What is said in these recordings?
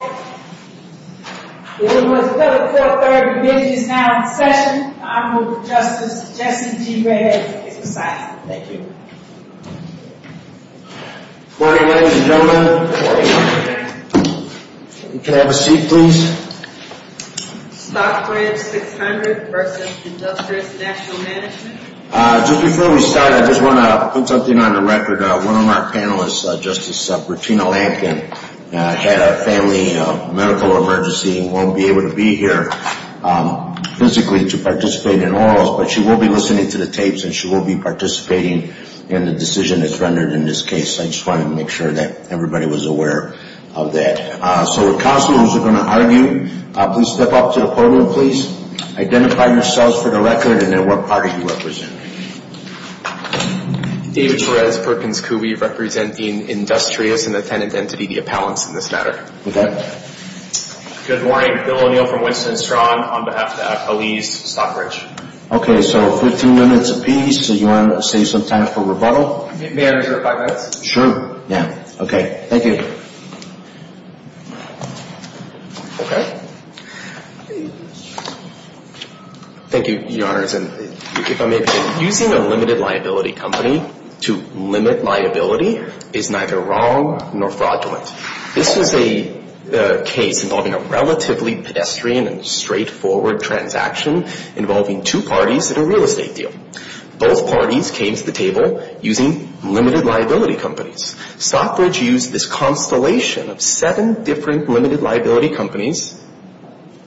Good morning ladies and gentlemen. Can I have a seat please? Stockbridge 600 versus Industrious National Management. Just before we start, I just want to put something on the record. One of our panelists, Justice Martina Lankin, had a family medical emergency and won't be able to be here physically to participate in orals, but she will be listening to the tapes and she will be participating in the decision that's rendered in this case. I just wanted to make sure that everybody was aware of that. So the counselors are going to argue. Please step up to the podium. Please identify yourselves for the record and then what party you represent. David Perez, Perkins Cooley, representing Industrious and the tenant entity, the appellants in this matter. Okay. Good morning. Bill O'Neill from Winston & Strong on behalf of the police, Stockbridge. Okay, so 15 minutes apiece. Do you want to save some time for rebuttal? May I reserve five minutes? Sure. Yeah. Okay. Thank you. Okay. Thank you, Your Honors. Using a limited liability company to limit liability is neither wrong nor fraudulent. This is a case involving a relatively pedestrian and straightforward transaction involving two parties at a real estate deal. Both parties came to the table using limited liability companies. Stockbridge used this constellation of seven different limited liability companies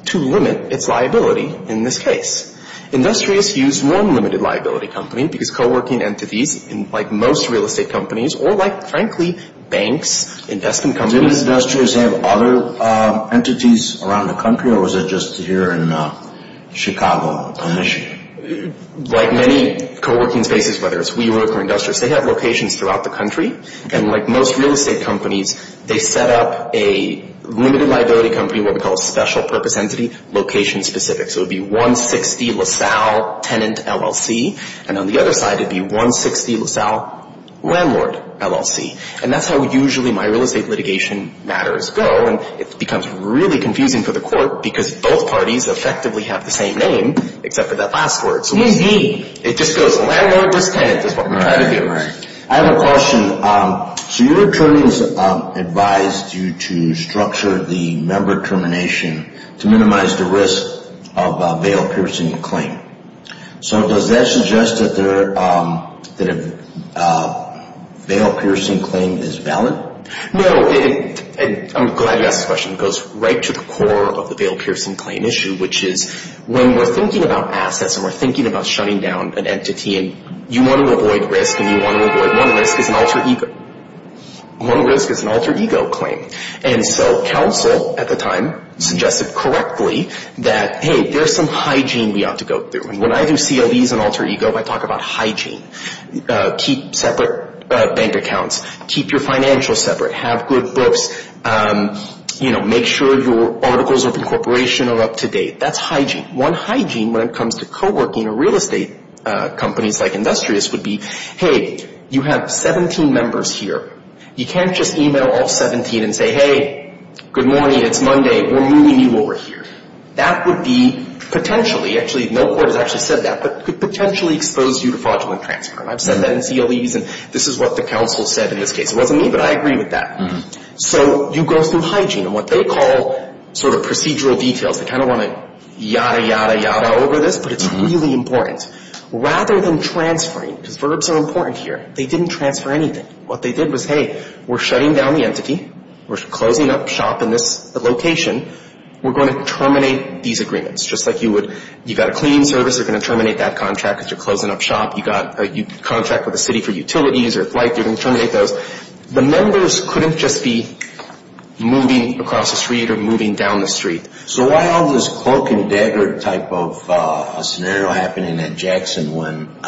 to limit its liability in this case. Industrious used one limited liability company because co-working entities, like most real estate companies or like, frankly, banks, investment companies Did Industrious have other entities around the country or was it just here in Chicago, Michigan? Like many co-working spaces, whether it's WeWork or Industrious, they have locations throughout the country. And like most real estate companies, they set up a limited liability company, what we call a special purpose entity, location specific. So it would be 160 LaSalle tenant LLC. And on the other side, it would be 160 LaSalle landlord LLC. And that's how usually my real estate litigation matters go. And it becomes really confusing for the court because both parties effectively have the same name except for that last word. Who's he? It just goes landlordless tenant is what we're trying to do. I have a question. So your attorneys advised you to structure the member termination to minimize the risk of a veil-piercing claim. So does that suggest that a veil-piercing claim is valid? No. I'm glad you asked this question. It goes right to the core of the veil-piercing claim issue, which is when we're thinking about assets and we're thinking about shutting down an entity and you want to avoid risk and you want to avoid one risk is an alter ego claim. And so counsel at the time suggested correctly that, hey, there's some hygiene we ought to go through. And when I do CLEs and alter ego, I talk about hygiene. Keep separate bank accounts. Keep your financial separate. Have good books. Make sure your articles of incorporation are up to date. That's hygiene. One hygiene when it comes to coworking or real estate companies like Industrious would be, hey, you have 17 members here. You can't just e-mail all 17 and say, hey, good morning, it's Monday, we're moving you over here. That would be potentially, actually no court has actually said that, but could potentially expose you to fraudulent transfer. And I've said that in CLEs and this is what the counsel said in this case. It wasn't me, but I agree with that. So you go through hygiene and what they call sort of procedural details. They kind of want to yada, yada, yada over this, but it's really important. Rather than transferring, because verbs are important here, they didn't transfer anything. What they did was, hey, we're shutting down the entity. We're closing up shop in this location. We're going to terminate these agreements just like you would. You've got a cleaning service, they're going to terminate that contract because you're closing up shop. You've got a contract with a city for utilities or a flight, you're going to terminate those. So the members couldn't just be moving across the street or moving down the street. So why all this cloak and dagger type of scenario happening at Jackson when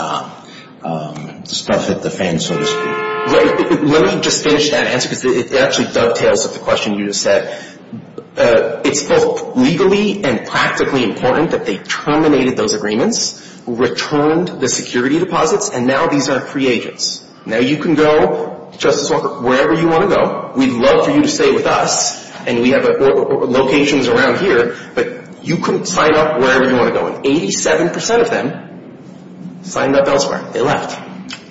stuff hit the fan, so to speak? Let me just finish that answer because it actually dovetails with the question you just said. It's both legally and practically important that they terminated those agreements, returned the security deposits, and now these are free agents. Now you can go, Justice Walker, wherever you want to go. We'd love for you to stay with us, and we have locations around here, but you can sign up wherever you want to go. And 87% of them signed up elsewhere. They left.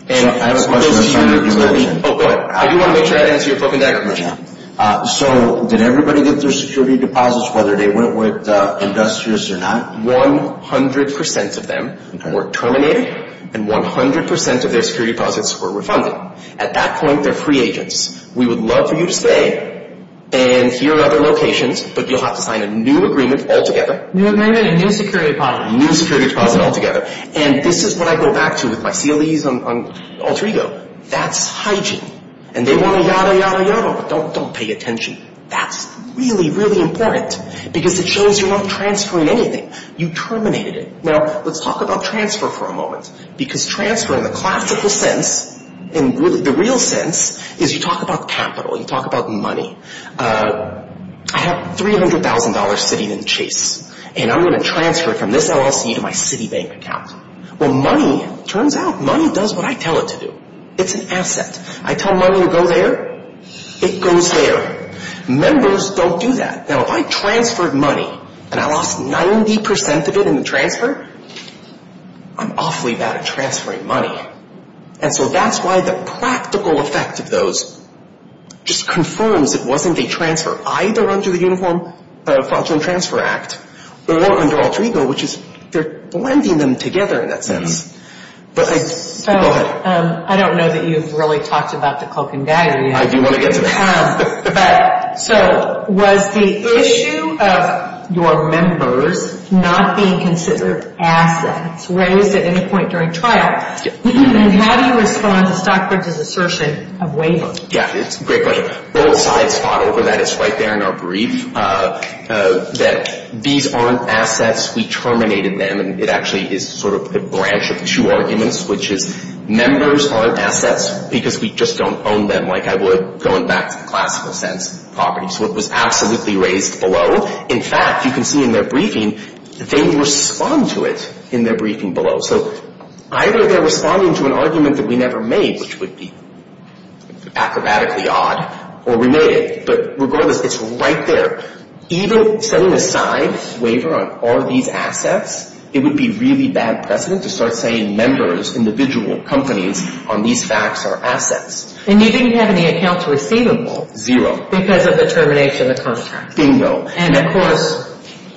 I have a question. Oh, go ahead. I do want to make sure I answer your cloak and dagger question. So did everybody get their security deposits whether they went with industrious or not? 100% of them were terminated, and 100% of their security deposits were refunded. At that point, they're free agents. We would love for you to stay, and here are other locations, but you'll have to sign a new agreement altogether. New agreement and new security deposit. New security deposit altogether. And this is what I go back to with my CLEs on alter ego. That's hygiene. And they want to yada, yada, yada, but don't pay attention. That's really, really important because it shows you're not transferring anything. You terminated it. Now, let's talk about transfer for a moment because transfer in the classical sense, in the real sense, is you talk about capital. You talk about money. I have $300,000 sitting in Chase, and I'm going to transfer it from this LLC to my Citibank account. Well, money, it turns out money does what I tell it to do. It's an asset. I tell money to go there. It goes there. Members don't do that. Now, if I transferred money and I lost 90% of it in the transfer, I'm awfully bad at transferring money. And so that's why the practical effect of those just confirms it wasn't a transfer either under the Uniform Fraudulent Transfer Act or under alter ego, which is they're blending them together in that sense. Go ahead. I don't know that you've really talked about the cloak and dagger yet. I do want to get to that. So was the issue of your members not being considered assets raised at any point during trial? And how do you respond to Stockbridge's assertion of waiver? Yeah, it's a great question. Both sides fought over that. It's right there in our brief that these aren't assets. We terminated them, and it actually is sort of a branch of two arguments, which is members aren't assets because we just don't own them like I would going back to the classical sense of property. So it was absolutely raised below. In fact, you can see in their briefing, they respond to it in their briefing below. So either they're responding to an argument that we never made, which would be acrobatically odd, or we made it. But regardless, it's right there. Even setting aside waiver on all these assets, it would be really bad precedent to start saying members, individual companies on these facts are assets. And you didn't have any accounts receivable. Zero. Because of the termination of the current tax. Bingo. And, of course,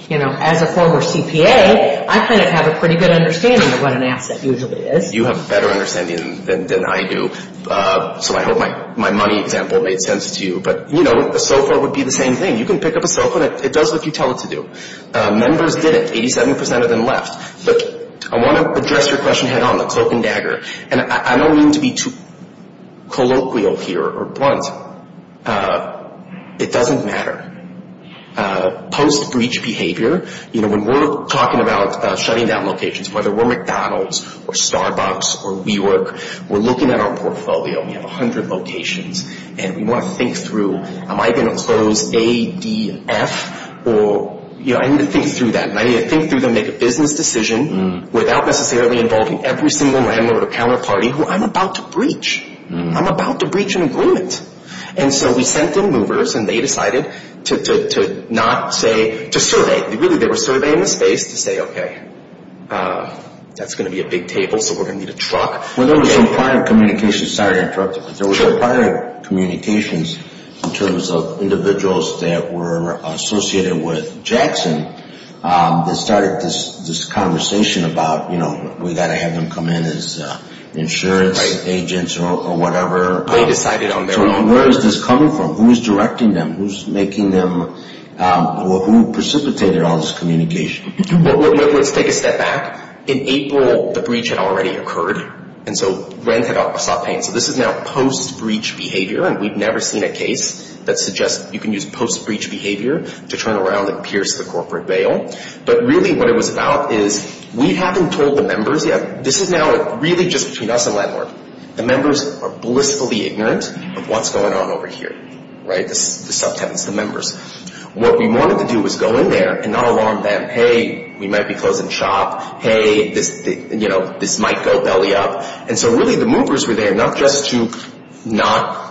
you know, as a former CPA, I kind of have a pretty good understanding of what an asset usually is. You have a better understanding than I do, so I hope my money example made sense to you. But, you know, so far it would be the same thing. You can pick up a cell phone. It does what you tell it to do. Members did it. Eighty-seven percent of them left. Look, I want to address your question head on, the cloak and dagger. And I don't mean to be too colloquial here or blunt. It doesn't matter. Post-breach behavior, you know, when we're talking about shutting down locations, whether we're McDonald's or Starbucks or WeWork, we're looking at our portfolio. We have 100 locations. And we want to think through, am I going to close ADF or, you know, I need to think through that. And I need to think through and make a business decision without necessarily involving every single landlord or counterparty who I'm about to breach. I'm about to breach an agreement. And so we sent in movers, and they decided to not say, to survey. Really, they were surveying the space to say, okay, that's going to be a big table, so we're going to need a truck. Well, there was some prior communications. Sorry to interrupt you, but there was some prior communications in terms of individuals that were associated with Jackson that started this conversation about, you know, we've got to have them come in as insurance agents or whatever. They decided on their own. So where is this coming from? Who is directing them? Who is making them or who precipitated all this communication? Let's take a step back. In April, the breach had already occurred, and so rent had already stopped paying. So this is now post-breach behavior, and we've never seen a case that suggests you can use post-breach behavior to turn around and pierce the corporate veil. But really what it was about is we haven't told the members yet. This is now really just between us and landlord. The members are blissfully ignorant of what's going on over here, right, the subtenants, the members. What we wanted to do was go in there and not alarm them. Hey, we might be closing shop. Hey, this, you know, this might go belly up. And so really the movers were there not just to not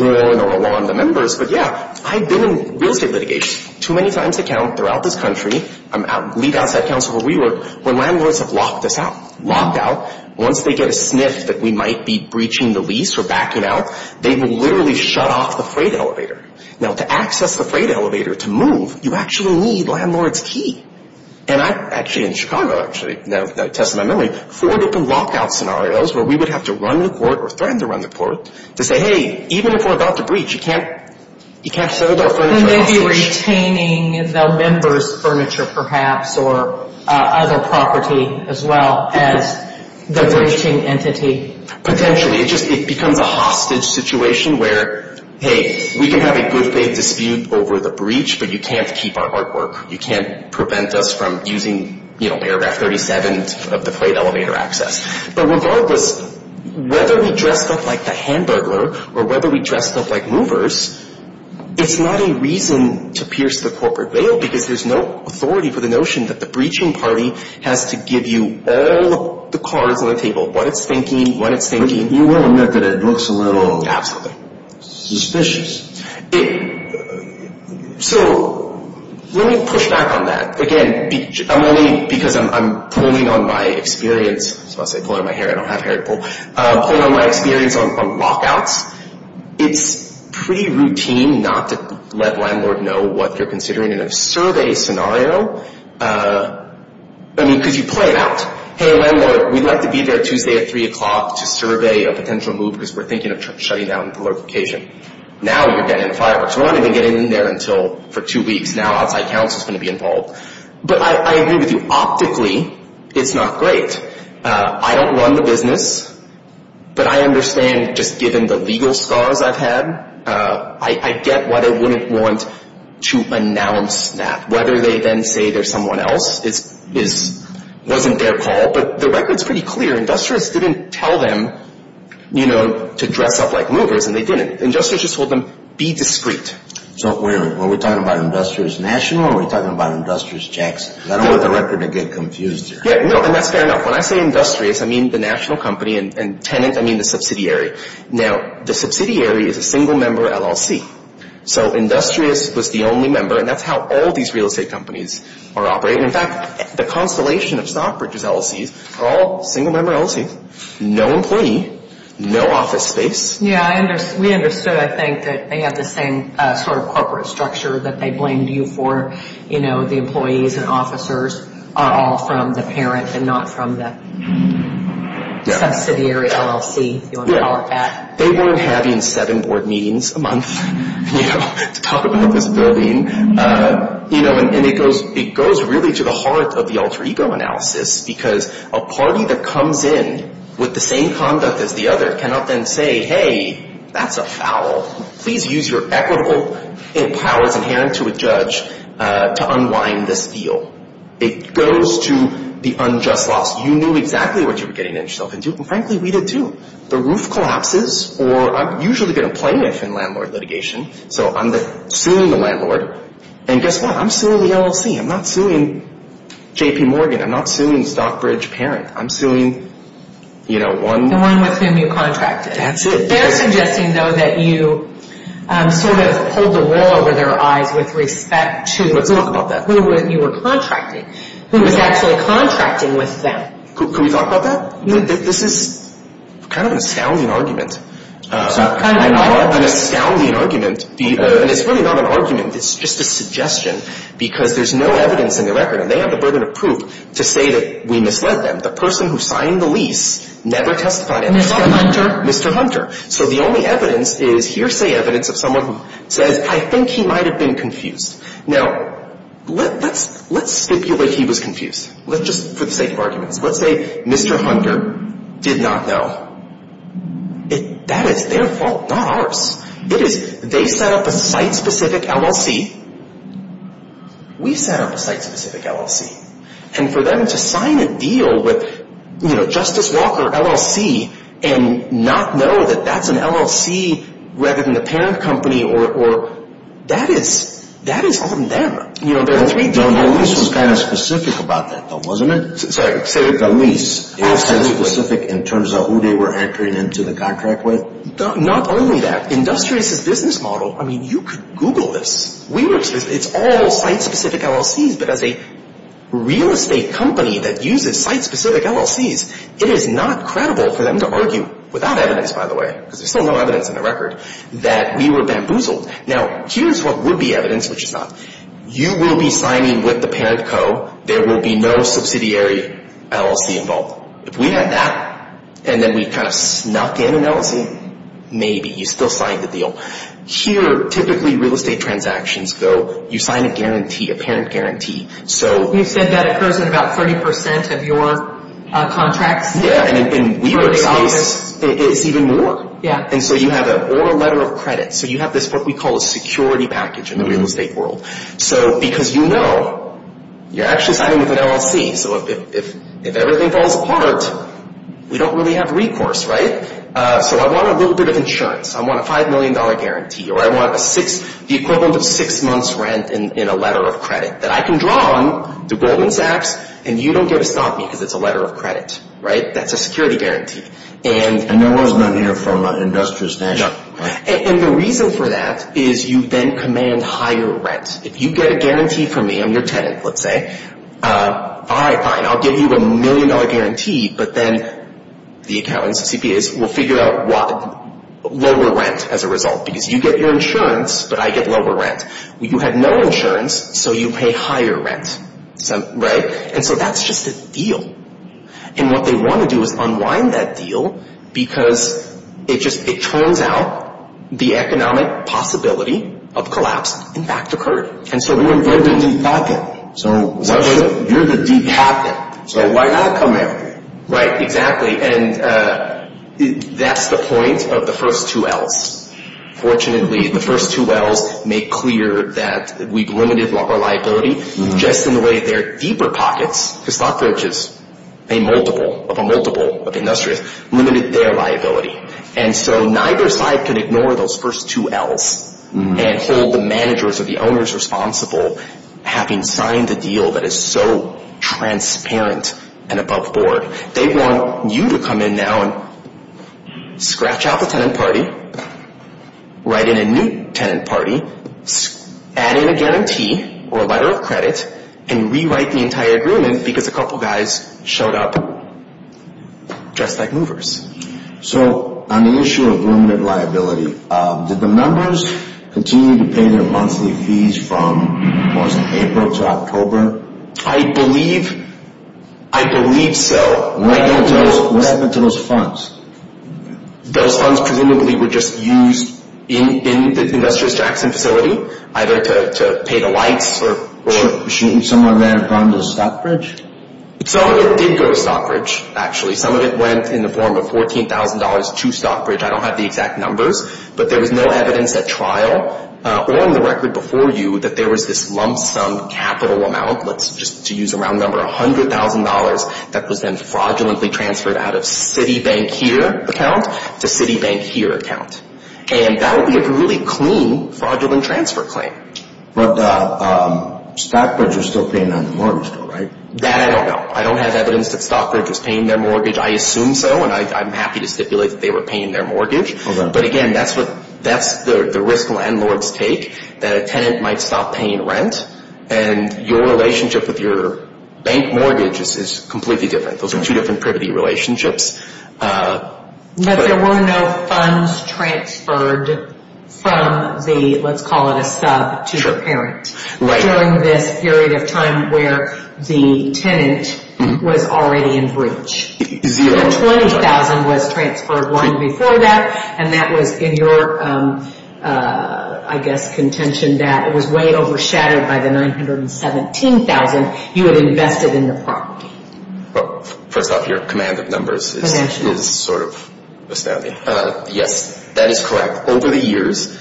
ruin or alarm the members, but, yeah, I've been in real estate litigation too many times to count throughout this country. I'm lead outside counsel where we work. When landlords have locked us out, locked out, once they get a sniff that we might be breaching the lease or backing out, they will literally shut off the freight elevator. Now, to access the freight elevator, to move, you actually need landlord's key. And I actually in Chicago actually, now I tested my memory, four different lockout scenarios where we would have to run to court or threaten to run to court to say, hey, even if we're about to breach, you can't set up our furniture hostage. Maybe retaining the members' furniture perhaps or other property as well as the breaching entity. Potentially. It just becomes a hostage situation where, hey, we can have a good faith dispute over the breach, but you can't keep our artwork. You can't prevent us from using, you know, paragraph 37 of the freight elevator access. But regardless, whether we dress up like the hand burglar or whether we dress up like movers, it's not a reason to pierce the corporate veil because there's no authority for the notion that the breaching party has to give you all the cards on the table, what it's thinking, what it's thinking. You will admit that it looks a little suspicious. So let me push back on that. Again, I'm only because I'm pulling on my experience. I was about to say pulling on my hair. I don't have hair to pull. Pulling on my experience on lockouts. It's pretty routine not to let landlord know what you're considering in a survey scenario. I mean, because you play it out. Hey, landlord, we'd like to be there Tuesday at 3 o'clock to survey a potential move because we're thinking of shutting down the location. Now you're getting fireworks. We're not even getting in there until for two weeks. Now outside counsel is going to be involved. But I agree with you. Optically, it's not great. I don't run the business, but I understand just given the legal scars I've had, I get why they wouldn't want to announce that. Whether they then say there's someone else wasn't their call, but the record's pretty clear. Industrious didn't tell them to dress up like movers, and they didn't. Industrious just told them, be discreet. So wait a minute. Were we talking about Industrious National or were we talking about Industrious Jackson? I don't want the record to get confused here. Yeah, no, and that's fair enough. When I say Industrious, I mean the national company, and tenant, I mean the subsidiary. Now, the subsidiary is a single-member LLC. So Industrious was the only member, and that's how all these real estate companies are operating. In fact, the constellation of Stockbridge's LLCs are all single-member LLCs. No employee, no office space. Yeah, we understood, I think, that they have the same sort of corporate structure that they blamed you for. You know, the employees and officers are all from the parent and not from the subsidiary LLC, if you want to call it that. They weren't having seven board meetings a month, you know, to talk about this building. You know, and it goes really to the heart of the alter ego analysis, because a party that comes in with the same conduct as the other cannot then say, hey, that's a foul. Please use your equitable powers inherent to a judge to unwind this deal. It goes to the unjust loss. You knew exactly what you were getting yourself into, and frankly, we did too. The roof collapses, or I usually get a plaintiff in landlord litigation. So I'm suing the landlord, and guess what? I'm suing the LLC. I'm not suing J.P. Morgan. I'm not suing Stockbridge parent. I'm suing, you know, one- The one with whom you contracted. That's it. They're suggesting, though, that you sort of pulled the wool over their eyes with respect to- Let's talk about that. Who you were contracting, who was actually contracting with them. Can we talk about that? This is kind of an astounding argument. I don't want an astounding argument, and it's really not an argument. It's just a suggestion, because there's no evidence in the record, and they have the burden of proof to say that we misled them. The person who signed the lease never testified. Mr. Hunter. Mr. Hunter. So the only evidence is hearsay evidence of someone who says, I think he might have been confused. Now, let's stipulate he was confused, just for the sake of arguments. Let's say Mr. Hunter did not know. That is their fault, not ours. They set up a site-specific LLC. We set up a site-specific LLC. And for them to sign a deal with, you know, Justice Walker LLC and not know that that's an LLC rather than a parent company or- That is on them. You know, there are three deals. So the lease was kind of specific about that, though, wasn't it? Sorry. The lease. It was site-specific in terms of who they were entering into the contract with? Not only that. Industrious' business model, I mean, you could Google this. It's all site-specific LLCs, but as a real estate company that uses site-specific LLCs, it is not credible for them to argue, without evidence, by the way, because there's still no evidence in the record, that we were bamboozled. Now, here's what would be evidence, which is not. You will be signing with the parent co. There will be no subsidiary LLC involved. If we had that, and then we kind of snuck in an LLC, maybe. You still signed the deal. Here, typically, real estate transactions go, you sign a guarantee, a parent guarantee. You said that occurs in about 30% of your contracts? Yeah, and in WeWork's case, it's even more. Yeah. And so you have an oral letter of credit. So you have this, what we call, a security package in the real estate world. Because you know you're actually signing with an LLC, so if everything falls apart, we don't really have recourse, right? So I want a little bit of insurance. I want a $5 million guarantee, or I want the equivalent of six months' rent in a letter of credit that I can draw on to Goldman Sachs, and you don't get to stop me because it's a letter of credit. That's a security guarantee. And there was none here from an industrious national? And the reason for that is you then command higher rent. If you get a guarantee from me, I'm your tenant, let's say, all right, fine, I'll give you a $1 million guarantee, but then the accountants, CPAs, will figure out lower rent as a result. Because you get your insurance, but I get lower rent. You had no insurance, so you pay higher rent, right? And so that's just a deal. And what they want to do is unwind that deal because it just turns out the economic possibility of collapse, in fact, occurred. And so you're the deep pocket, so why not come in? Right, exactly, and that's the point of the first two L's. Fortunately, the first two L's make clear that we've limited our liability, just in the way their deeper pockets, because stock brooches pay multiple of a multiple of industrious, limited their liability. And so neither side can ignore those first two L's and hold the managers or the owners responsible, having signed a deal that is so transparent and above board. They want you to come in now and scratch out the tenant party, write in a new tenant party, add in a guarantee or a letter of credit, and rewrite the entire agreement because a couple guys showed up dressed like movers. So on the issue of limited liability, did the members continue to pay their monthly fees from most of April to October? I believe so. What happened to those funds? Those funds presumably were just used in the industrious Jackson facility, either to pay the lights or to go to Stockbridge. Some of it did go to Stockbridge, actually. Some of it went in the form of $14,000 to Stockbridge. I don't have the exact numbers, but there was no evidence at trial or on the record before you that there was this lump sum capital amount, just to use a round number, $100,000, that was then fraudulently transferred out of Citibank here account to Citibank here account. And that would be a really clean fraudulent transfer claim. But Stockbridge was still paying on the mortgage bill, right? That I don't know. I don't have evidence that Stockbridge was paying their mortgage. I assume so, and I'm happy to stipulate that they were paying their mortgage. But again, that's the risk landlords take, that a tenant might stop paying rent, and your relationship with your bank mortgage is completely different. Those are two different privity relationships. But there were no funds transferred from the, let's call it a sub, to the parent. During this period of time where the tenant was already in breach. $20,000 was transferred long before that, and that was in your, I guess, contention that it was way overshadowed by the $917,000 you had invested in the property. First off, your command of numbers is sort of astounding. Yes, that is correct. Over the years,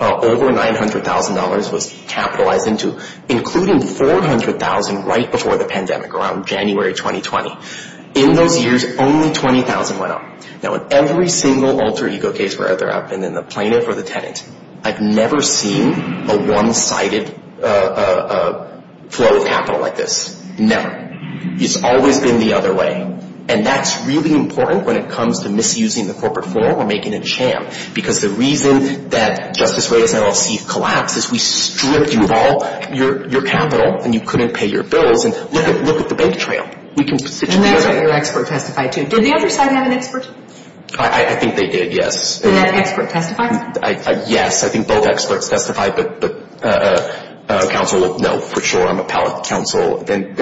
over $900,000 was capitalized into, including $400,000 right before the pandemic, around January 2020. In those years, only $20,000 went up. Now, in every single alter ego case where I've been in, the plaintiff or the tenant, I've never seen a one-sided flow of capital like this. Never. It's always been the other way. And that's really important when it comes to misusing the corporate form or making a jam. Because the reason that Justice Reyes LLC collapsed is we stripped you of all your capital, and you couldn't pay your bills. And look at the bank trail. And that's what your expert testified to. Did the other side have an expert? I think they did, yes. And that expert testified? Yes, I think both experts testified. But counsel, no, for sure, I'm a pallet counsel. And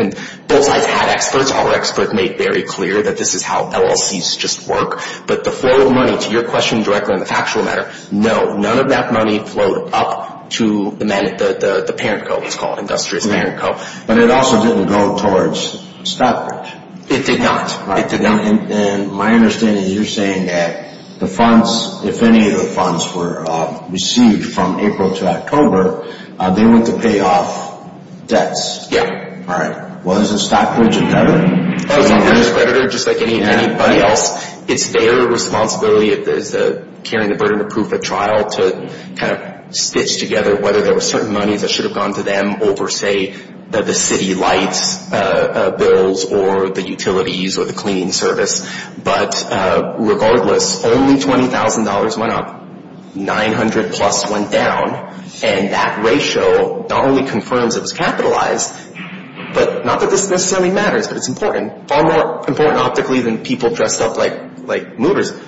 both sides had experts. Our expert made very clear that this is how LLCs just work. But the flow of money, to your question directly on the factual matter, no, none of that money flowed up to the parent co, it's called, Industrious Parent Co. But it also didn't go towards stockbridge. It did not. It did not. And my understanding is you're saying that the funds, if any of the funds were received from April to October, they went to pay off debts. Yes. All right. Was it stockbridge or not? It was not the creditors, just like anybody else. It's their responsibility as the carrying the burden of proof of trial to kind of stitch together whether there were certain monies that should have gone to them over, say, the city lights bills or the utilities or the cleaning service. But regardless, only $20,000 went up. 900-plus went down. And that ratio not only confirms it was capitalized, but not that this necessarily matters, but it's important, far more important optically than people dressed up like mooters.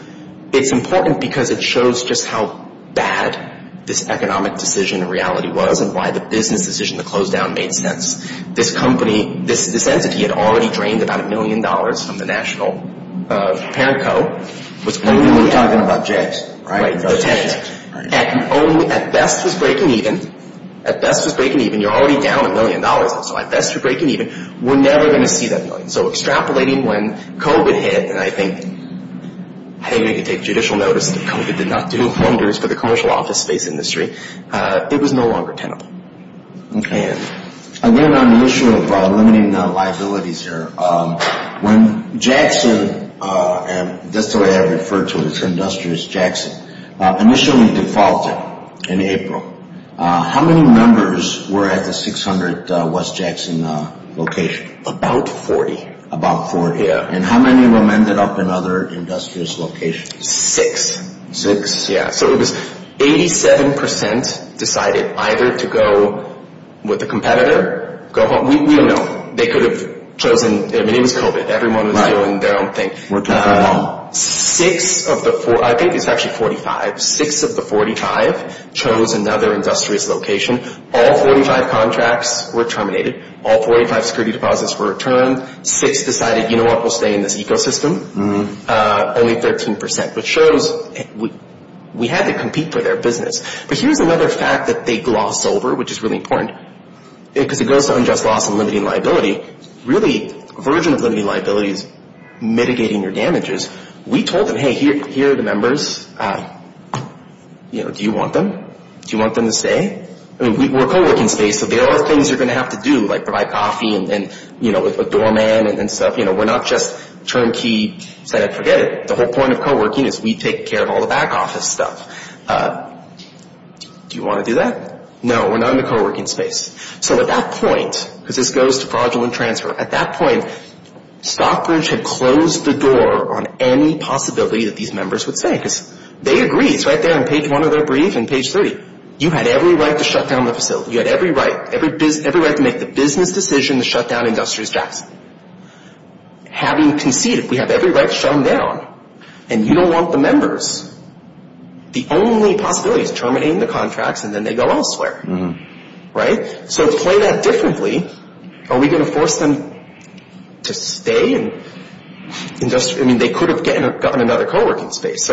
It's important because it shows just how bad this economic decision in reality was and why the business decision to close down made sense. This company, this entity had already drained about a million dollars from the national parent co. We're talking about jets, right? At best it was breaking even. At best it was breaking even. You're already down a million dollars. So at best you're breaking even. We're never going to see that million. So extrapolating when COVID hit, and I think, hey, we can take judicial notice that COVID did not do wonders for the commercial office space industry, it was no longer tenable. Okay. Again, on the issue of limiting liabilities here, when Jackson, that's the way I refer to it, it's Industrious Jackson, initially defaulted in April. How many members were at the 600 West Jackson location? About 40. About 40. Yeah. And how many were mended up in other industrious locations? Six. Six. Yeah. So it was 87% decided either to go with a competitor, go home. We don't know. They could have chosen, I mean, it was COVID. Everyone was doing their own thing. Six of the four, I think it's actually 45, six of the 45 chose another industrious location. All 45 contracts were terminated. All 45 security deposits were returned. Six decided, you know what, we'll stay in this ecosystem. Only 13%, which shows we had to compete for their business. But here's another fact that they glossed over, which is really important, because it goes to unjust loss and limiting liability. Really, a version of limiting liability is mitigating your damages. We told them, hey, here are the members. Do you want them? Do you want them to stay? We're a co-working space, so there are things you're going to have to do, like provide coffee and a doorman and stuff. We're not just turnkey, forget it. The whole point of co-working is we take care of all the back office stuff. Do you want to do that? No, we're not in the co-working space. So at that point, because this goes to fraudulent transfer, at that point Stockbridge had closed the door on any possibility that these members would stay, because they agreed. It's right there on page one of their brief and page 30. You had every right to shut down the facility. You had every right to make the business decision to shut down Industrious Jackson. Having conceded, we have every right to shut them down, and you don't want the members. The only possibility is terminating the contracts, and then they go elsewhere. So to play that differently, are we going to force them to stay? I mean, they could have gotten another co-working space.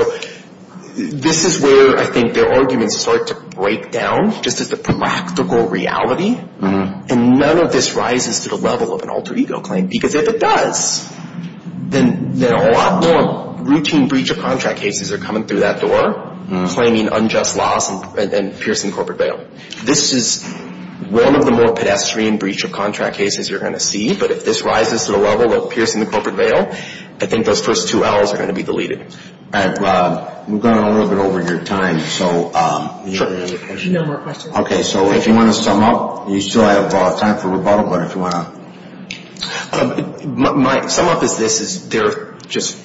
This is where I think their arguments start to break down, just as the practical reality, and none of this rises to the level of an alter ego claim, because if it does, then a lot more routine breach of contract cases are coming through that door, claiming unjust loss and piercing the corporate veil. This is one of the more pedestrian breach of contract cases you're going to see, but if this rises to the level of piercing the corporate veil, I think those first two L's are going to be deleted. All right. We've gone a little bit over your time. Sure. No more questions. Okay. So if you want to sum up, you still have time for rebuttal, but if you want to. My sum up is this, is they're just,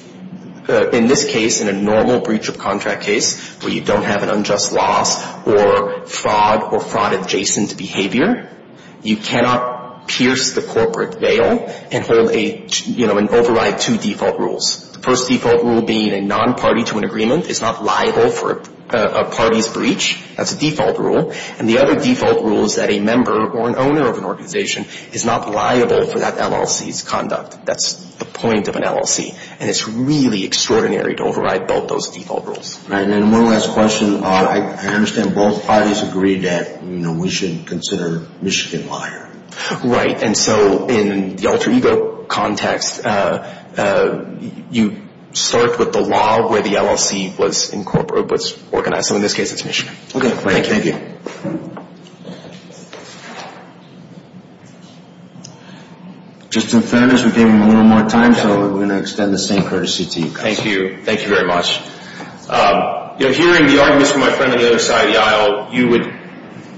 in this case, in a normal breach of contract case, where you don't have an unjust loss or fraud or fraud adjacent behavior, you cannot pierce the corporate veil and hold a, you know, and override two default rules. The first default rule being a non-party to an agreement is not liable for a party's breach. That's a default rule. And the other default rule is that a member or an owner of an organization is not liable for that LLC's conduct. That's the point of an LLC. And it's really extraordinary to override both those default rules. All right. And one last question. I understand both parties agree that, you know, we should consider Michigan liar. Right. And so in the alter ego context, you start with the law where the LLC was incorporated, was organized. So in this case, it's Michigan. Okay. Thank you. Just in fairness, we gave him a little more time, so we're going to extend the same courtesy to you guys. Thank you. Thank you very much. You know, hearing the arguments from my friend on the other side of the aisle, you would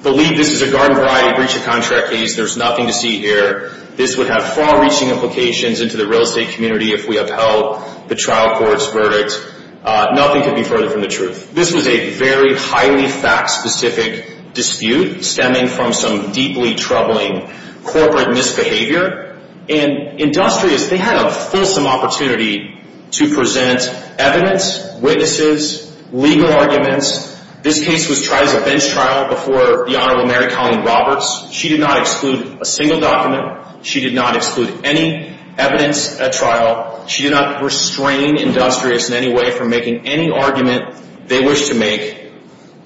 believe this is a garden-variety breach of contract case. There's nothing to see here. This would have far-reaching implications into the real estate community if we upheld the trial court's verdict. Nothing could be further from the truth. This was a very highly fact-specific dispute stemming from some deeply troubling corporate misbehavior. And Industrious, they had a fulsome opportunity to present evidence, witnesses, legal arguments. This case was tried as a bench trial before the Honorable Mary Colleen Roberts. She did not exclude a single document. She did not exclude any evidence at trial. She did not restrain Industrious in any way from making any argument they wished to make.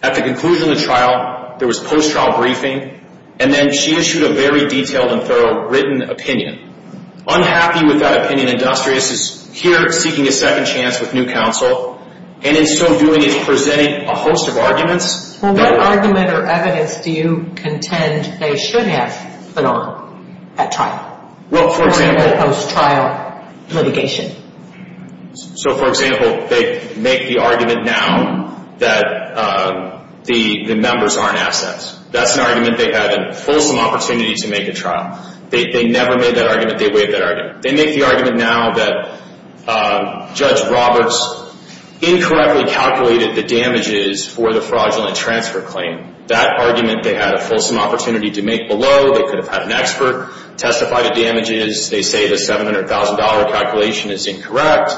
At the conclusion of the trial, there was post-trial briefing, and then she issued a very detailed and thorough written opinion. Unhappy with that opinion, Industrious is here seeking a second chance with new counsel, and in so doing is presenting a host of arguments. Well, what argument or evidence do you contend they should have put on at trial? Well, for example? Post-trial litigation. So, for example, they make the argument now that the members aren't assets. That's an argument they had a fulsome opportunity to make at trial. They never made that argument. They waived that argument. They make the argument now that Judge Roberts incorrectly calculated the damages for the fraudulent transfer claim. That argument they had a fulsome opportunity to make below. They could have had an expert testify to damages. They say the $700,000 calculation is incorrect.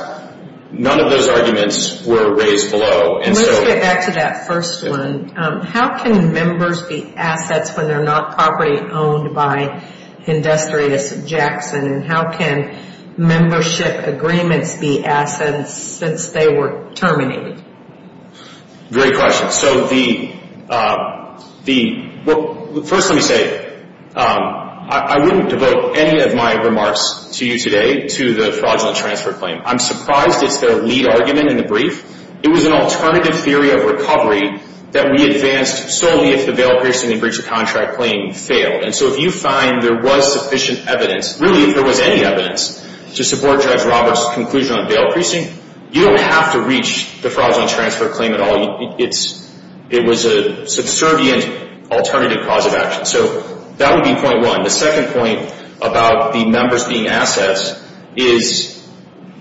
None of those arguments were raised below. And let's get back to that first one. How can members be assets when they're not properly owned by Industrious Jackson, and how can membership agreements be assets since they were terminated? Great question. So, first let me say I wouldn't devote any of my remarks to you today to the fraudulent transfer claim. I'm surprised it's their lead argument in the brief. It was an alternative theory of recovery that we advanced solely if the bail precinct and breach of contract claim failed. And so if you find there was sufficient evidence, really if there was any evidence, to support Judge Roberts' conclusion on bail precinct, you don't have to reach the fraudulent transfer claim at all. It was a subservient alternative cause of action. So that would be point one. The second point about the members being assets is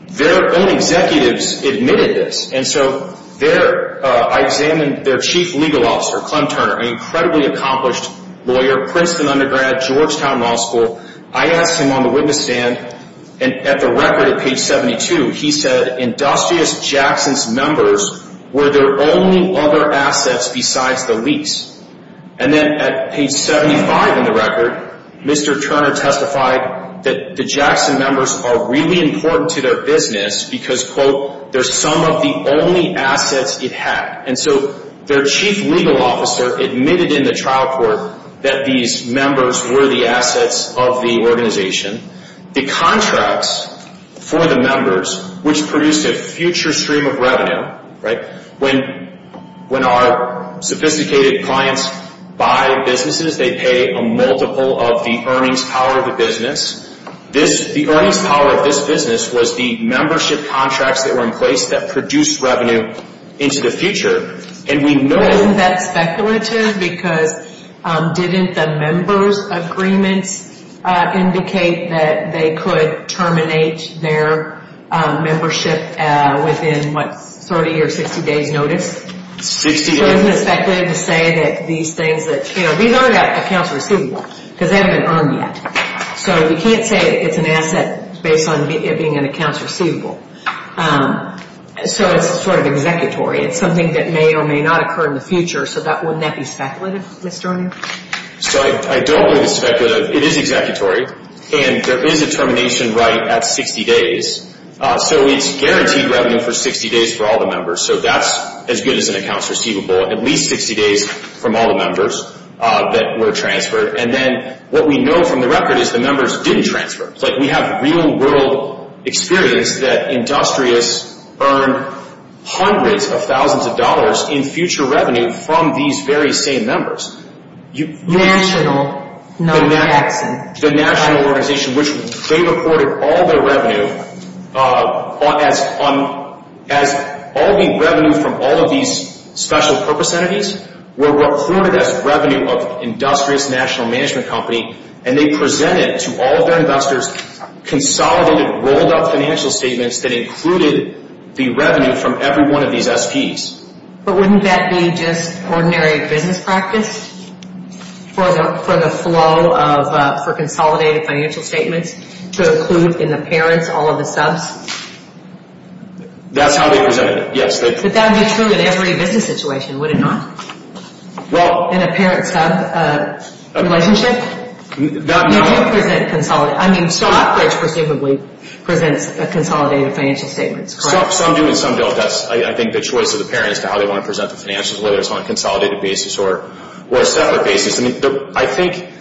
their own executives admitted this. And so I examined their chief legal officer, Clem Turner, an incredibly accomplished lawyer, Princeton undergrad, Georgetown Law School. I asked him on the witness stand, and at the record at page 72, he said, Industrious Jackson's members were their only other assets besides the lease. And then at page 75 in the record, Mr. Turner testified that the Jackson members are really important to their business because, quote, they're some of the only assets it had. And so their chief legal officer admitted in the trial court that these members were the assets of the organization. The contracts for the members, which produced a future stream of revenue, right, when our sophisticated clients buy businesses, they pay a multiple of the earnings power of the business. The earnings power of this business was the membership contracts that were in place that produced revenue into the future. And we know- because didn't the members' agreements indicate that they could terminate their membership within, what, 30 or 60 days' notice? Sixty days. So he speculated to say that these things that, you know, these aren't accounts receivable because they haven't been earned yet. So we can't say it's an asset based on it being an accounts receivable. So it's sort of executory. It's something that may or may not occur in the future. So wouldn't that be speculative, Mr. O'Neill? So I don't believe it's speculative. It is executory. And there is a termination right at 60 days. So it's guaranteed revenue for 60 days for all the members. So that's as good as an accounts receivable, at least 60 days from all the members that were transferred. And then what we know from the record is the members didn't transfer. It's like we have real world experience that industrious earned hundreds of thousands of dollars in future revenue from these very same members. National, not accident. The national organization, which they reported all their revenue as all the revenue from all of these special purpose entities were reported as revenue of industrious national management company. And they presented to all of their investors consolidated rolled up financial statements that included the revenue from every one of these SPs. But wouldn't that be just ordinary business practice for the flow of consolidated financial statements to include in the parents all of the subs? That's how they presented it, yes. But that would be true in every business situation, would it not? In a parent-sub relationship? No. I mean Stockbridge presumably presents a consolidated financial statement, correct? Some do and some don't. That's, I think, the choice of the parent as to how they want to present the financials, whether it's on a consolidated basis or a separate basis. I think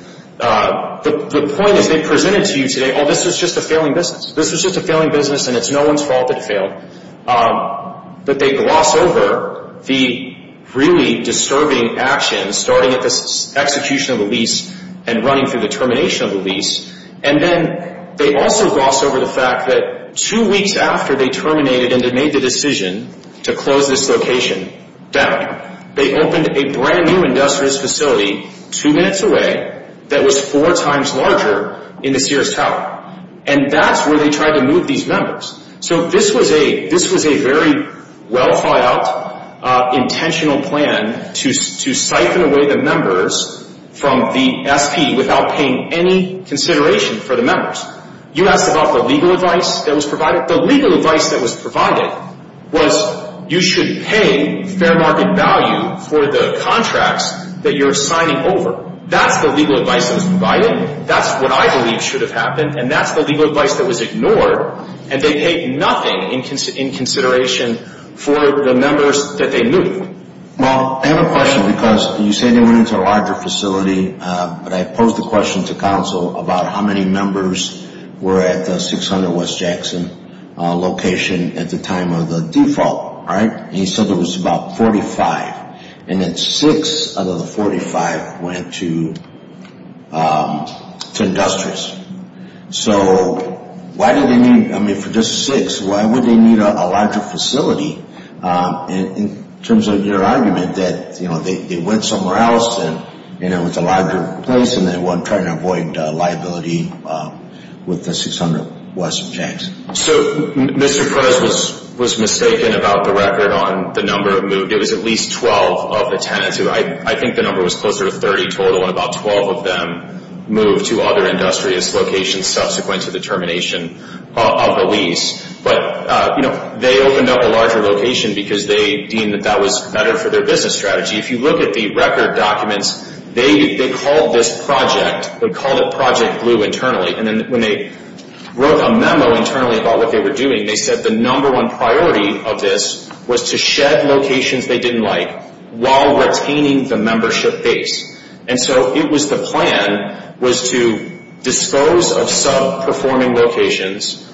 the point is they presented to you today, oh, this was just a failing business. This was just a failing business and it's no one's fault that it failed. But they gloss over the really disturbing actions starting at the execution of the lease and running through the termination of the lease. And then they also gloss over the fact that two weeks after they terminated and they made the decision to close this location down, they opened a brand new industrious facility two minutes away that was four times larger in the Sears Tower. And that's where they tried to move these members. So this was a very well-thought-out, intentional plan to siphon away the members from the SP without paying any consideration for the members. You asked about the legal advice that was provided. The legal advice that was provided was you should pay fair market value for the contracts that you're signing over. That's the legal advice that was provided. That's what I believe should have happened. And that's the legal advice that was ignored. And they paid nothing in consideration for the members that they moved. Well, I have a question because you say they went into a larger facility, but I posed the question to counsel about how many members were at the 600 West Jackson location at the time of the default. And he said there was about 45. And then six out of the 45 went to industrious. So why did they need, I mean, for just six, why would they need a larger facility in terms of your argument that they went somewhere else and it was a larger place and they weren't trying to avoid liability with the 600 West Jackson? So Mr. Perez was mistaken about the record on the number of moved. It was at least 12 of the tenants who I think the number was closer to 30 total and about 12 of them moved to other industrious locations subsequent to the termination of the lease. But, you know, they opened up a larger location because they deemed that that was better for their business strategy. If you look at the record documents, they called this project, they called it Project Blue internally. And then when they wrote a memo internally about what they were doing, they said the number one priority of this was to shed locations they didn't like while retaining the membership base. And so it was the plan was to dispose of sub-performing locations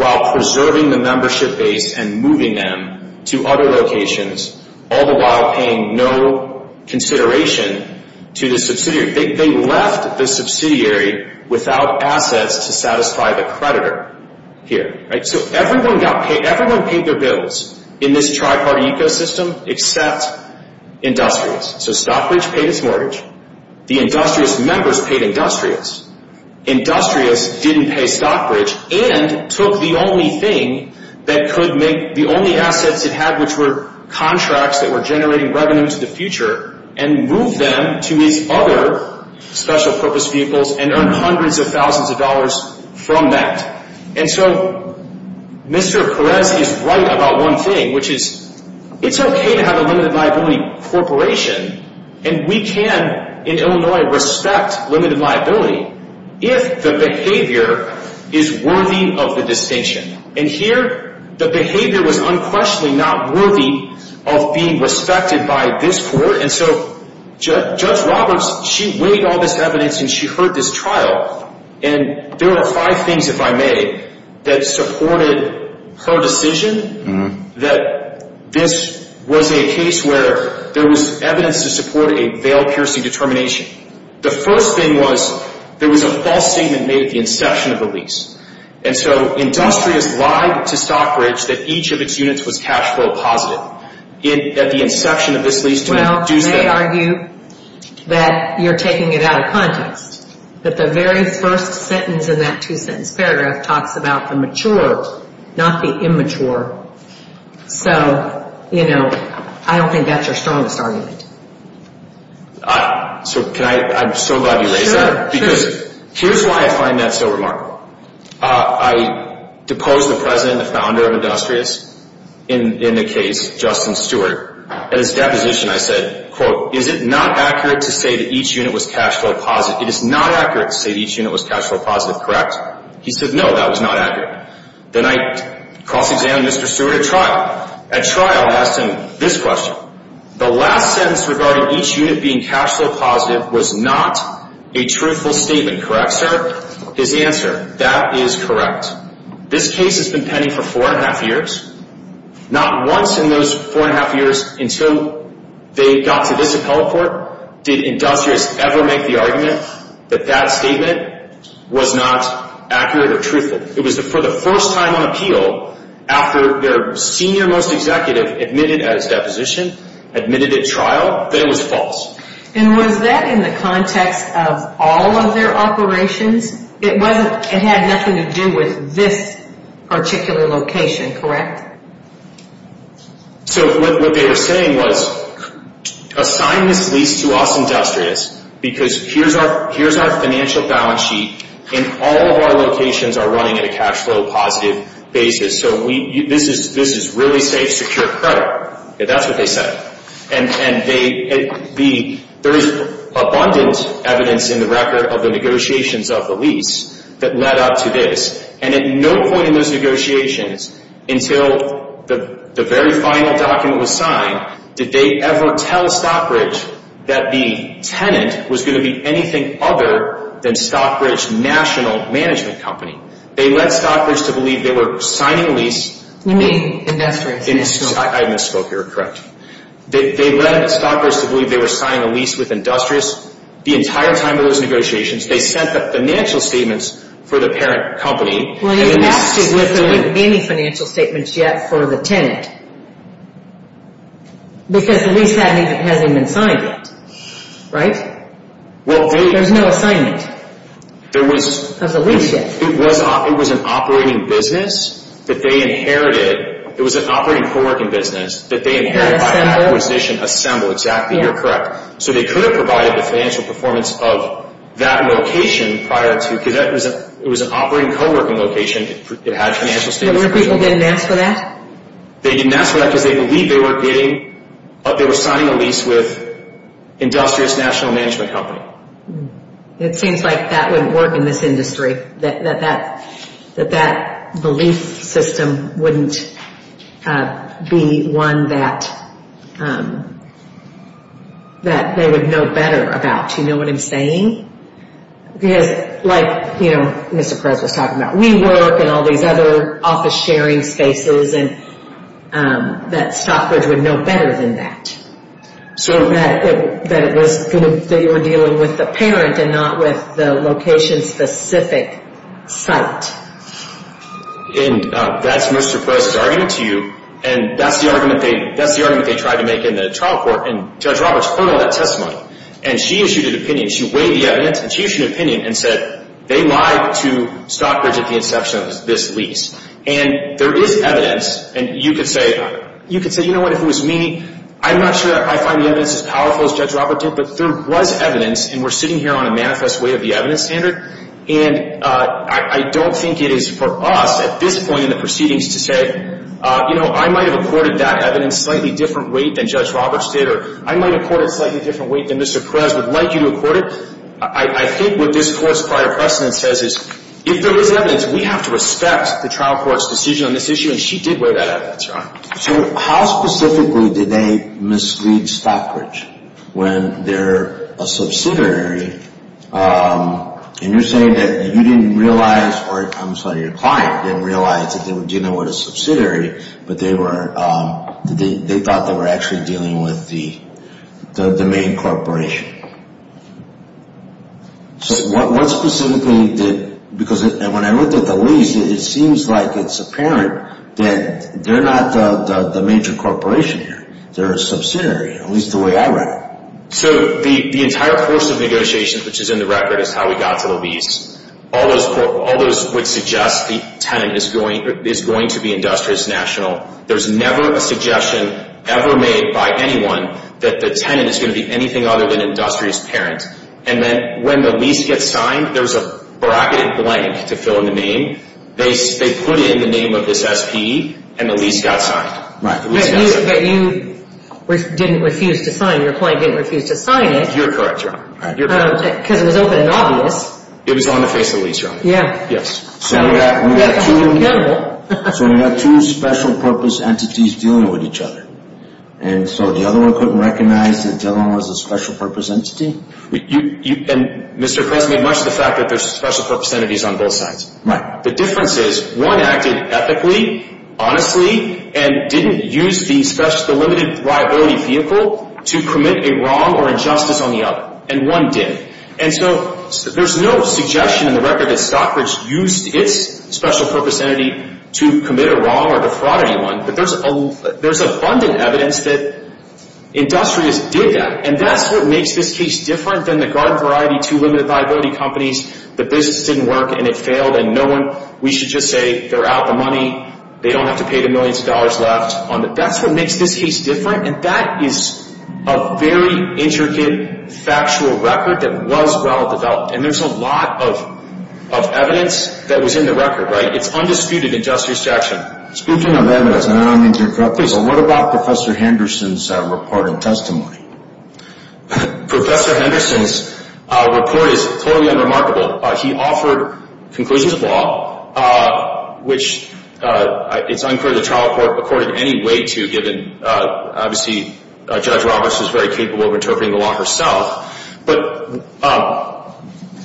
while preserving the membership base and moving them to other locations, all the while paying no consideration to the subsidiary. They left the subsidiary without assets to satisfy the creditor here. So everyone paid their bills in this tripartite ecosystem except industrious. So Stockbridge paid its mortgage. The industrious members paid industrious. Industrious didn't pay Stockbridge and took the only thing that could make, the only assets it had which were contracts that were generating revenue to the future and moved them to these other special purpose vehicles and earned hundreds of thousands of dollars from that. And so Mr. Perez is right about one thing, which is it's okay to have a limited liability corporation and we can in Illinois respect limited liability if the behavior is worthy of the distinction. And here the behavior was unquestionably not worthy of being respected by this court. And so Judge Roberts, she weighed all this evidence and she heard this trial. And there were five things, if I may, that supported her decision that this was a case where there was evidence to support a veiled piercing determination. The first thing was there was a false statement made at the inception of the lease. And so industrious lied to Stockbridge that each of its units was cash flow positive at the inception of this lease. Well, they argue that you're taking it out of context. But the very first sentence in that two sentence paragraph talks about the mature, not the immature. So, you know, I don't think that's your strongest argument. So can I, I'm so glad you raised that. Sure. Because here's why I find that so remarkable. I deposed the president, the founder of Industrious in the case, Justin Stewart. At his deposition I said, quote, is it not accurate to say that each unit was cash flow positive? It is not accurate to say that each unit was cash flow positive, correct? He said, no, that was not accurate. Then I cross-examined Mr. Stewart at trial. At trial I asked him this question. The last sentence regarding each unit being cash flow positive was not a truthful statement, correct, sir? His answer, that is correct. This case has been pending for four and a half years. Not once in those four and a half years until they got to this appellate court did Industrious ever make the argument that that statement was not accurate or truthful. It was for the first time on appeal after their senior most executive admitted at his deposition, admitted at trial, that it was false. And was that in the context of all of their operations? It wasn't, it had nothing to do with this particular location, correct? So what they were saying was, assign this lease to us, Industrious, because here's our financial balance sheet and all of our locations are running at a cash flow positive basis. So this is really safe, secure credit. That's what they said. And there is abundant evidence in the record of the negotiations of the lease that led up to this. And at no point in those negotiations until the very final document was signed did they ever tell Stockbridge that the tenant was going to be anything other than Stockbridge National Management Company. They led Stockbridge to believe they were signing a lease. You mean Industrious? I misspoke, you're correct. They led Stockbridge to believe they were signing a lease with Industrious. The entire time of those negotiations they sent the financial statements for the parent company. Well, they didn't ask you if there were any financial statements yet for the tenant. Because the lease hasn't even been signed yet, right? There's no assignment of the lease yet. It was an operating business that they inherited. It was an operating co-working business that they inherited by acquisition. Assembled, exactly, you're correct. So they could have provided the financial performance of that location prior to, because it was an operating co-working location. It had financial statements. No one of the people didn't ask for that? They didn't ask for that because they believed they were getting, they were signing a lease with Industrious National Management Company. It seems like that wouldn't work in this industry. That that belief system wouldn't be one that they would know better about. You know what I'm saying? Because like Mr. Perez was talking about, we work in all these other office sharing spaces and that Stockbridge would know better than that. So that it was, that you were dealing with the parent and not with the location specific site. And that's Mr. Perez's argument to you. And that's the argument they tried to make in the trial court. And Judge Roberts heard all that testimony. And she issued an opinion. She weighed the evidence. And she issued an opinion and said they lied to Stockbridge at the inception of this lease. And there is evidence. And you could say, you know what, if it was me, I'm not sure I find the evidence as powerful as Judge Roberts did. But there was evidence. And we're sitting here on a manifest way of the evidence standard. And I don't think it is for us at this point in the proceedings to say, you know, I might have accorded that evidence a slightly different weight than Judge Roberts did. Or I might have accorded it a slightly different weight than Mr. Perez would like you to have accorded. I think what this court's prior precedent says is if there is evidence, we have to respect the trial court's decision on this issue. And she did weigh that evidence, Your Honor. So how specifically did they mislead Stockbridge when they're a subsidiary? And you're saying that you didn't realize, or I'm sorry, your client didn't realize that they were dealing with a subsidiary. But they were, they thought they were actually dealing with the main corporation. So what specifically did, because when I looked at the lease, it seems like it's apparent that they're not the major corporation here. They're a subsidiary, at least the way I read it. So the entire course of negotiations, which is in the record, is how we got to the lease. All those would suggest the tenant is going to be Industrious National. There's never a suggestion ever made by anyone that the tenant is going to be anything other than Industrious Parent. And then when the lease gets signed, there's a bracketed blank to fill in the name. They put in the name of this S.P.E. and the lease got signed. Right. But you didn't refuse to sign. Your client didn't refuse to sign it. You're correct, Your Honor. Because it was open and obvious. It was on the face of the lease, Your Honor. Yeah. Yes. So we got two special purpose entities dealing with each other. And so the other one couldn't recognize that the other one was a special purpose entity? And Mr. Kress made much of the fact that there's special purpose entities on both sides. Right. The difference is one acted ethically, honestly, and didn't use the limited liability vehicle to commit a wrong or injustice on the other. And one did. And so there's no suggestion in the record that Stockbridge used its special purpose entity to commit a wrong or defraud anyone. But there's abundant evidence that Industrious did that. And that's what makes this case different than the garden variety, two limited liability companies. The business didn't work and it failed and no one, we should just say, they're out the money. They don't have to pay the millions of dollars left. That's what makes this case different. And that is a very intricate, factual record that was well-developed. And there's a lot of evidence that was in the record, right? It's undisputed in Justice Jackson. Speaking of evidence, and I don't mean to interrupt, please, what about Professor Henderson's report and testimony? Professor Henderson's report is totally unremarkable. He offered conclusions of law, which it's unclear the trial court accorded any weight to, given obviously Judge Roberts was very capable of interpreting the law herself. But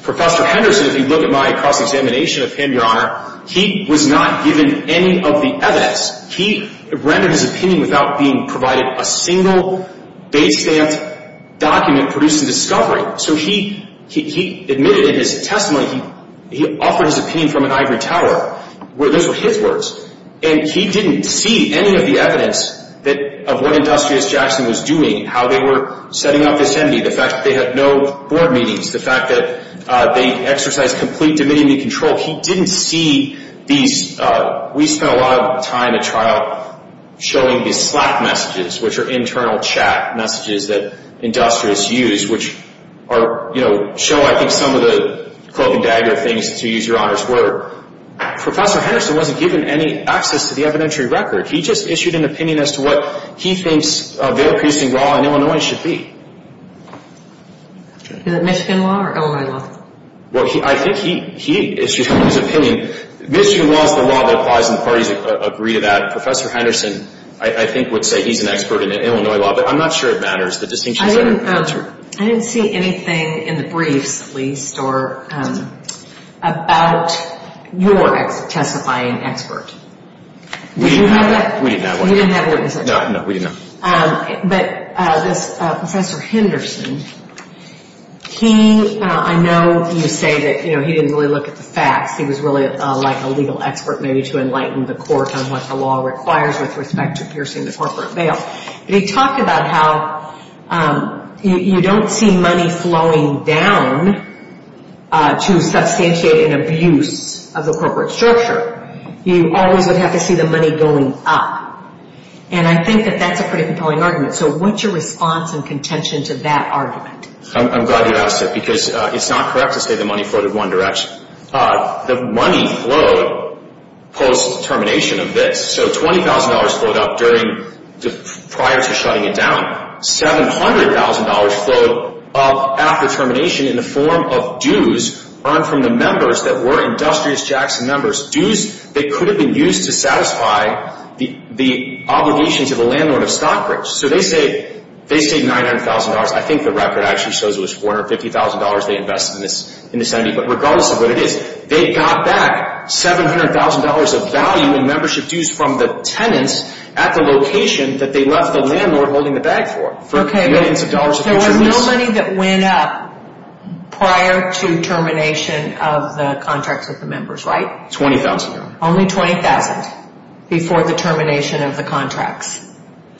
Professor Henderson, if you look at my cross-examination of him, Your Honor, he was not given any of the evidence. He rendered his opinion without being provided a single base stamp document producing discovery. So he admitted in his testimony he offered his opinion from an ivory tower where those were his words. And he didn't see any of the evidence of what Industrious Jackson was doing, how they were setting up this entity, the fact that they had no board meetings, the fact that they exercised complete dominion and control. He didn't see these. We spent a lot of time at trial showing these Slack messages, which are internal chat messages that Industrious used, which show, I think, some of the cloaking dagger things, to use Your Honor's word. Professor Henderson wasn't given any access to the evidentiary record. He just issued an opinion as to what he thinks their producing law in Illinois should be. Is it Michigan law or Illinois law? Well, I think he issued his opinion. Michigan law is the law that applies, and the parties agree to that. Professor Henderson, I think, would say he's an expert in Illinois law, but I'm not sure it matters. I didn't see anything in the briefs, at least, about your testifying expert. We didn't have one. You didn't have one. No, no, we didn't have one. But Professor Henderson, I know you say that he didn't really look at the facts. He was really like a legal expert, maybe to enlighten the court on what the law requires with respect to piercing the corporate bail. But he talked about how you don't see money flowing down to substantiate an abuse of the corporate structure. You always would have to see the money going up. And I think that that's a pretty compelling argument. So what's your response and contention to that argument? I'm glad you asked it because it's not correct to say the money floated one direction. The money flowed post-termination of this. So $20,000 flowed up prior to shutting it down. $700,000 flowed up after termination in the form of dues earned from the members that were Industrious Jackson members, dues that could have been used to satisfy the obligations of a landlord of Stockbridge. So they saved $900,000. I think the record actually shows it was $450,000 they invested in this entity. But regardless of what it is, they got back $700,000 of value in membership dues from the tenants at the location that they left the landlord holding the bag for. There was no money that went up prior to termination of the contracts with the members, right? $20,000. Only $20,000 before the termination of the contracts.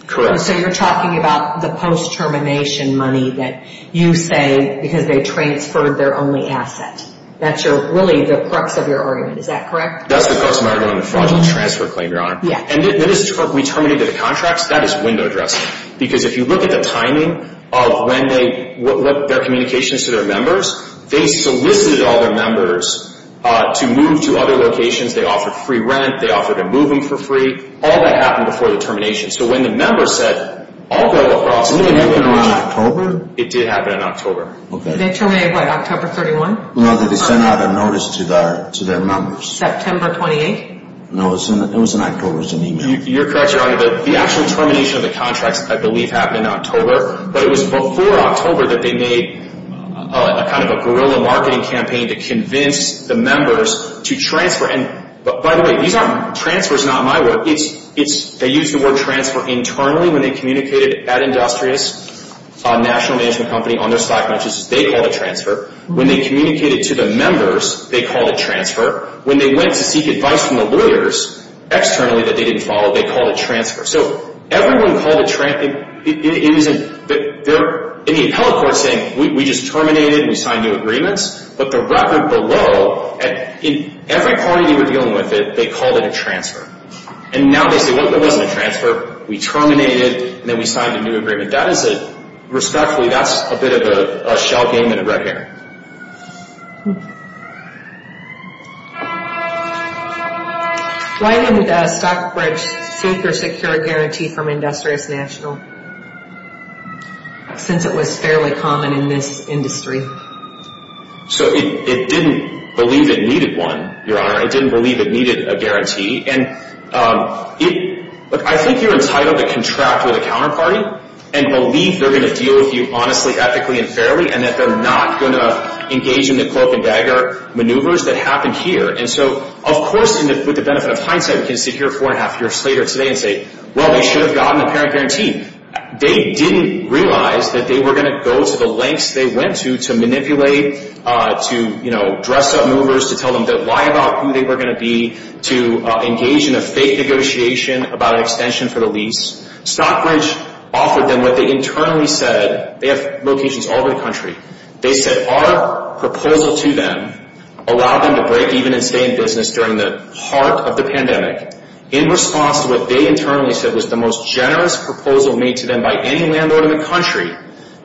Correct. So you're talking about the post-termination money that you say because they transferred their only asset. That's really the crux of your argument. Is that correct? That's the crux of my argument with the fraudulent transfer claim, Your Honor. Yeah. And we terminated the contracts. That is window dressing. Because if you look at the timing of when their communications to their members, they solicited all their members to move to other locations. They offered free rent. They offered to move them for free. All that happened before the termination. So when the members said, I'll go across. Didn't it happen in October? It did happen in October. Okay. They terminated, what, October 31? No, they sent out a notice to their members. September 28? No, it was in October. It was an email. You're correct, Your Honor. The actual termination of the contracts, I believe, happened in October. But it was before October that they made a kind of a guerrilla marketing campaign to convince the members to transfer. And by the way, transfer is not my word. They used the word transfer internally when they communicated at Industrious National Management Company on their stock matches. They called it transfer. When they communicated to the members, they called it transfer. When they went to seek advice from the lawyers externally that they didn't follow, they called it transfer. So everyone called it transfer. In the appellate court saying, we just terminated and we signed new agreements. But the record below, in every party they were dealing with it, they called it a transfer. And now they say, well, it wasn't a transfer. We terminated and then we signed a new agreement. That is a, respectfully, that's a bit of a shell game in red hair. Why didn't the Stockbridge seek or secure a guarantee from Industrious National since it was fairly common in this industry? So it didn't believe it needed one, Your Honor. It didn't believe it needed a guarantee. And I think you're entitled to contract with a counterparty and believe they're going to deal with you honestly, ethically, and fairly, and that they're not going to engage in the cloak and dagger maneuvers that happened here. And so, of course, with the benefit of hindsight, we can sit here four and a half years later today and say, well, they should have gotten a parent guarantee. They didn't realize that they were going to go to the lengths they went to to manipulate, to, you know, dress up movers, to tell them that lie about who they were going to be, to engage in a fake negotiation about an extension for the lease. Stockbridge offered them what they internally said. They have locations all over the country. They said our proposal to them allowed them to break even and stay in business during the heart of the pandemic. In response to what they internally said was the most generous proposal made to them by any landlord in the country.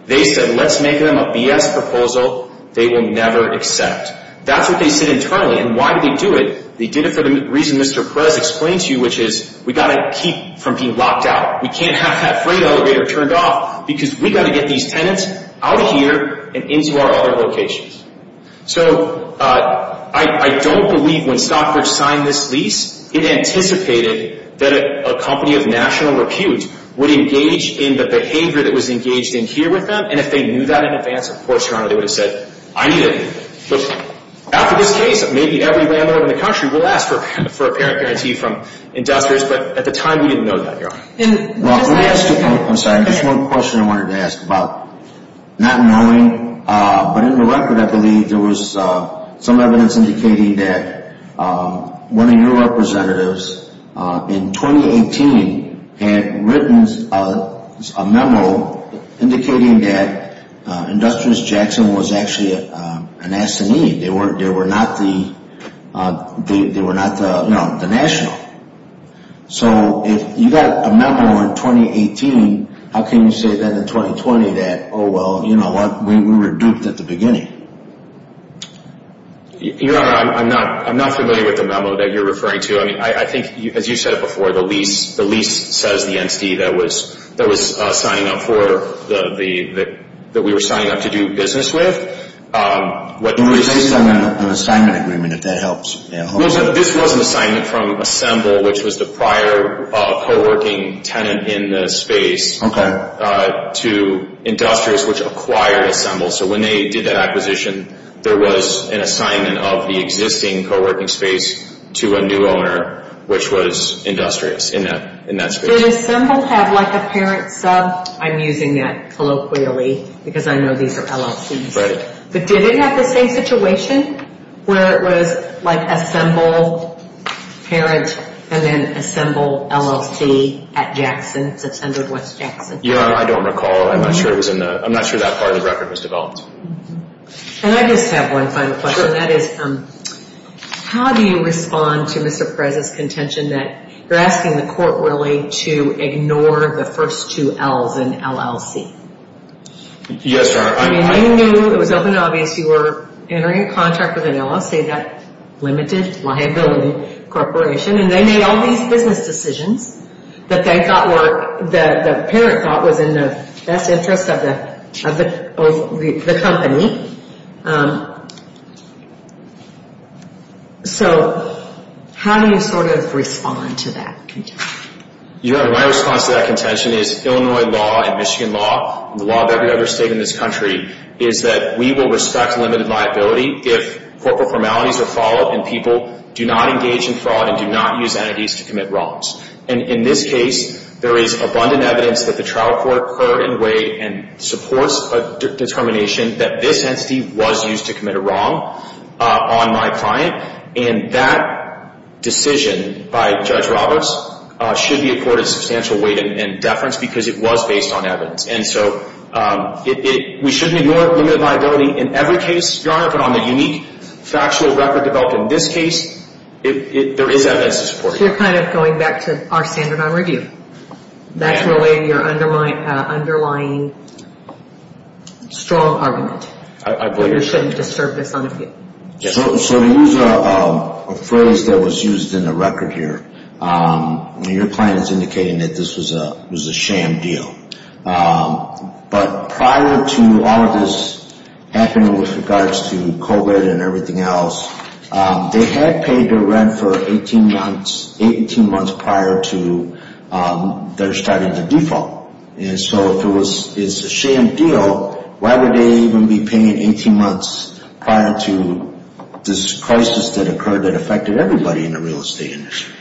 They said, let's make them a BS proposal. They will never accept. That's what they said internally. And why did they do it? They did it for the reason Mr. Perez explained to you, which is we've got to keep from being locked out. We can't have that freight elevator turned off because we've got to get these tenants out of here and into our other locations. So I don't believe when Stockbridge signed this lease, it anticipated that a company of national repute would engage in the behavior that was engaged in here with them. And if they knew that in advance, of course, Your Honor, they would have said, I need it. After this case, maybe every landlord in the country will ask for a parent guarantee from investors. But at the time, we didn't know that, Your Honor. I'm sorry. Just one question I wanted to ask about. Not knowing, but in the record, I believe there was some evidence indicating that one of your representatives in 2018 had written a memo indicating that Industrious Jackson was actually an S&E. They were not the national. So if you got a memo in 2018, how can you say then in 2020 that, oh, well, you know what, we were duped at the beginning? Your Honor, I'm not familiar with the memo that you're referring to. I mean, I think, as you said before, the lease says the entity that was signing up for, that we were signing up to do business with. It was based on an assignment agreement, if that helps. This was an assignment from Assemble, which was the prior co-working tenant in the space, to Industrious, which acquired Assemble. So when they did that acquisition, there was an assignment of the existing co-working space to a new owner, which was Industrious in that space. Did Assemble have like a parent sub? I'm using that colloquially because I know these are LLCs. Right. But did it have the same situation where it was like Assemble parent and then Assemble LLC at Jackson? It's Assembled West Jackson. Your Honor, I don't recall. I'm not sure it was in the, I'm not sure that part of the record was developed. And I just have one final question. Sure. That is, how do you respond to Mr. Perez's contention that you're asking the court really to ignore the first two L's in LLC? Yes, Your Honor. I mean, I knew it was open and obvious you were entering a contract with an LLC, that limited liability corporation, and they made all these business decisions that they thought were, that the parent thought was in the best interest of the company. So how do you sort of respond to that contention? Your Honor, my response to that contention is Illinois law and Michigan law and the law of every other state in this country is that we will respect limited liability if corporate formalities are followed and people do not engage in fraud and do not use entities to commit wrongs. And in this case, there is abundant evidence that the trial court occurred in a way and supports a determination that this entity was used to commit a wrong on my client. And that decision by Judge Roberts should be accorded substantial weight and deference because it was based on evidence. And so we shouldn't ignore limited liability in every case, Your Honor, but on the unique factual record developed in this case, there is evidence to support it. So you're kind of going back to our standard on review. That's really your underlying strong argument. I believe so. You shouldn't disturb this on review. So to use a phrase that was used in the record here, your client is indicating that this was a sham deal. But prior to all of this happening with regards to COVID and everything else, they had paid their rent for 18 months prior to their starting the default. And so if it's a sham deal, why would they even be paying 18 months prior to this crisis that occurred that affected everybody in the real estate industry?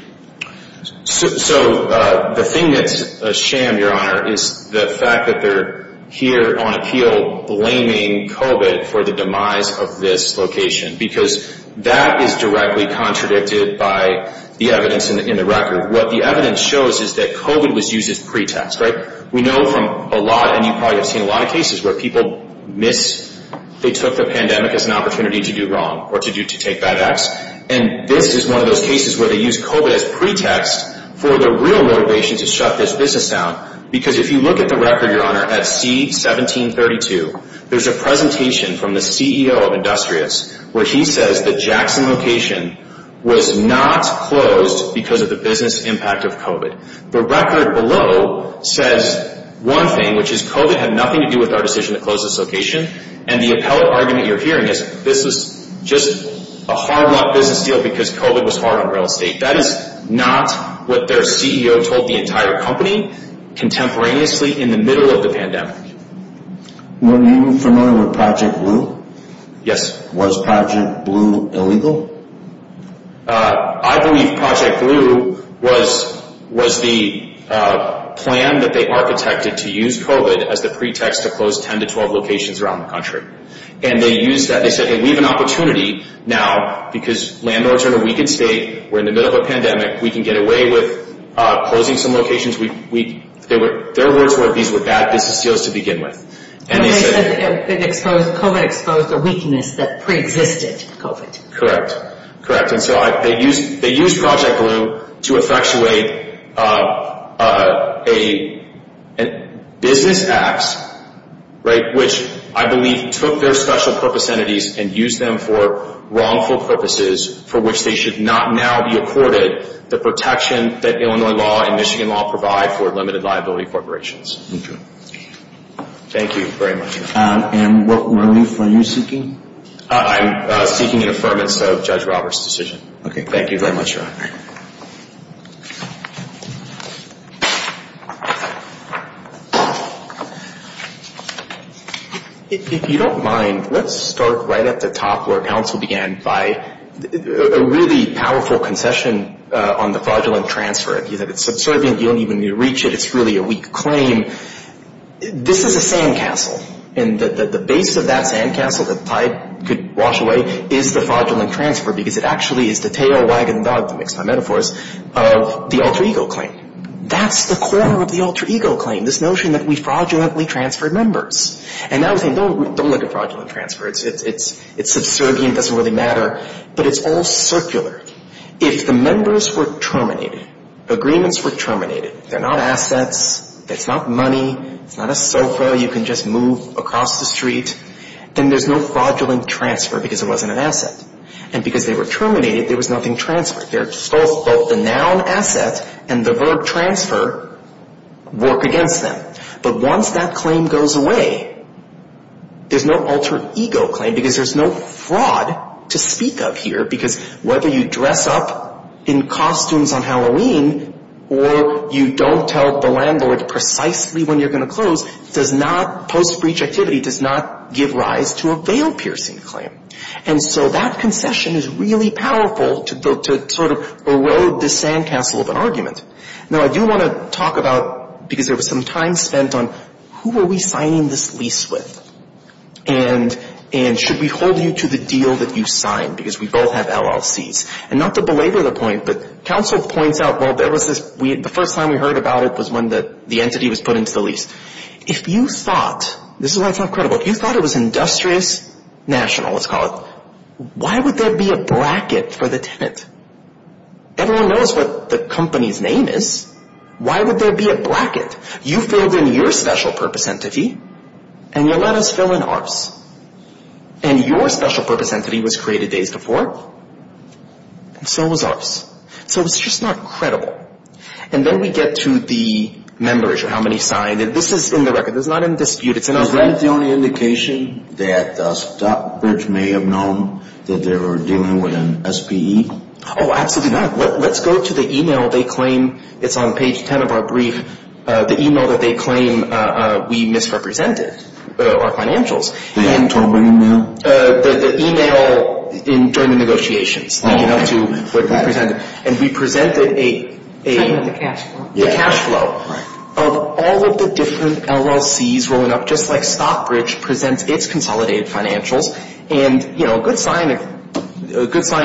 So the thing that's a sham, Your Honor, is the fact that they're here on appeal blaming COVID for the demise of this location because that is directly contradicted by the evidence in the record. What the evidence shows is that COVID was used as pretext. We know from a lot, and you probably have seen a lot of cases where people took the pandemic as an opportunity to do wrong or to take bad acts. And this is one of those cases where they used COVID as pretext for the real motivation to shut this business down. Because if you look at the record, Your Honor, at C-1732, there's a presentation from the CEO of Industrious where he says the Jackson location was not closed because of the business impact of COVID. The record below says one thing, which is COVID had nothing to do with our decision to close this location. And the appellate argument you're hearing is this was just a hard-won business deal because COVID was hard on real estate. That is not what their CEO told the entire company contemporaneously in the middle of the pandemic. Were you familiar with Project Blue? Yes. Was Project Blue illegal? I believe Project Blue was the plan that they architected to use COVID as the pretext to close 10 to 12 locations around the country. And they used that. They said, hey, we have an opportunity now because landlords are in a weakened state. We're in the middle of a pandemic. We can get away with closing some locations. Their words were these were bad business deals to begin with. And they said COVID exposed a weakness that preexisted COVID. Correct. Correct. And so they used Project Blue to effectuate a business act, right, which I believe took their special purpose entities and used them for wrongful purposes for which they should not now be accorded the protection that Illinois law and Michigan law provide for limited liability corporations. Okay. Thank you very much. And what relief are you seeking? I'm seeking an affirmance of Judge Roberts' decision. Okay. Thank you very much, Robert. If you don't mind, let's start right at the top where counsel began by a really powerful concession on the fraudulent transfer. It's subservient. You don't even need to reach it. It's really a weak claim. This is a sandcastle. And the base of that sandcastle that Pai could wash away is the fraudulent transfer because it actually is the tail wagging dog, to mix my metaphors, the alter ego claim. That's the core of the alter ego claim, this notion that we fraudulently transfer members. And now we're saying don't look at fraudulent transfer. It's subservient. It doesn't really matter. But it's all circular. If the members were terminated, agreements were terminated, they're not assets, it's not money, it's not a sofa. You can just move across the street. And there's no fraudulent transfer because it wasn't an asset. And because they were terminated, there was nothing transferred. Both the noun asset and the verb transfer work against them. But once that claim goes away, there's no alter ego claim because there's no fraud to speak of here. Because whether you dress up in costumes on Halloween or you don't tell the landlord precisely when you're going to close, does not, post breach activity does not give rise to a veil piercing claim. And so that concession is really powerful to sort of erode the sandcastle of an argument. Now, I do want to talk about, because there was some time spent on who are we signing this lease with? And should we hold you to the deal that you signed? Because we both have LLCs. And not to belabor the point, but counsel points out, well, there was this, the first time we heard about it was when the entity was put into the lease. If you thought, this is why it's not credible, if you thought it was industrious national, let's call it, why would there be a bracket for the tenant? Everyone knows what the company's name is. Why would there be a bracket? You filled in your special purpose entity, and you let us fill in ours. And your special purpose entity was created days before, and so was ours. So it's just not credible. And then we get to the members or how many signed it. This is in the record. This is not in dispute. Is that the only indication that Stockbridge may have known that they were dealing with an SPE? Oh, absolutely not. Let's go to the e-mail. They claim it's on page 10 of our brief, the e-mail that they claim we misrepresented our financials. They hadn't told by e-mail? The e-mail during the negotiations. And we presented a cash flow of all of the different LLCs rolling up, just like Stockbridge presents its consolidated financials. And, you know, a good sign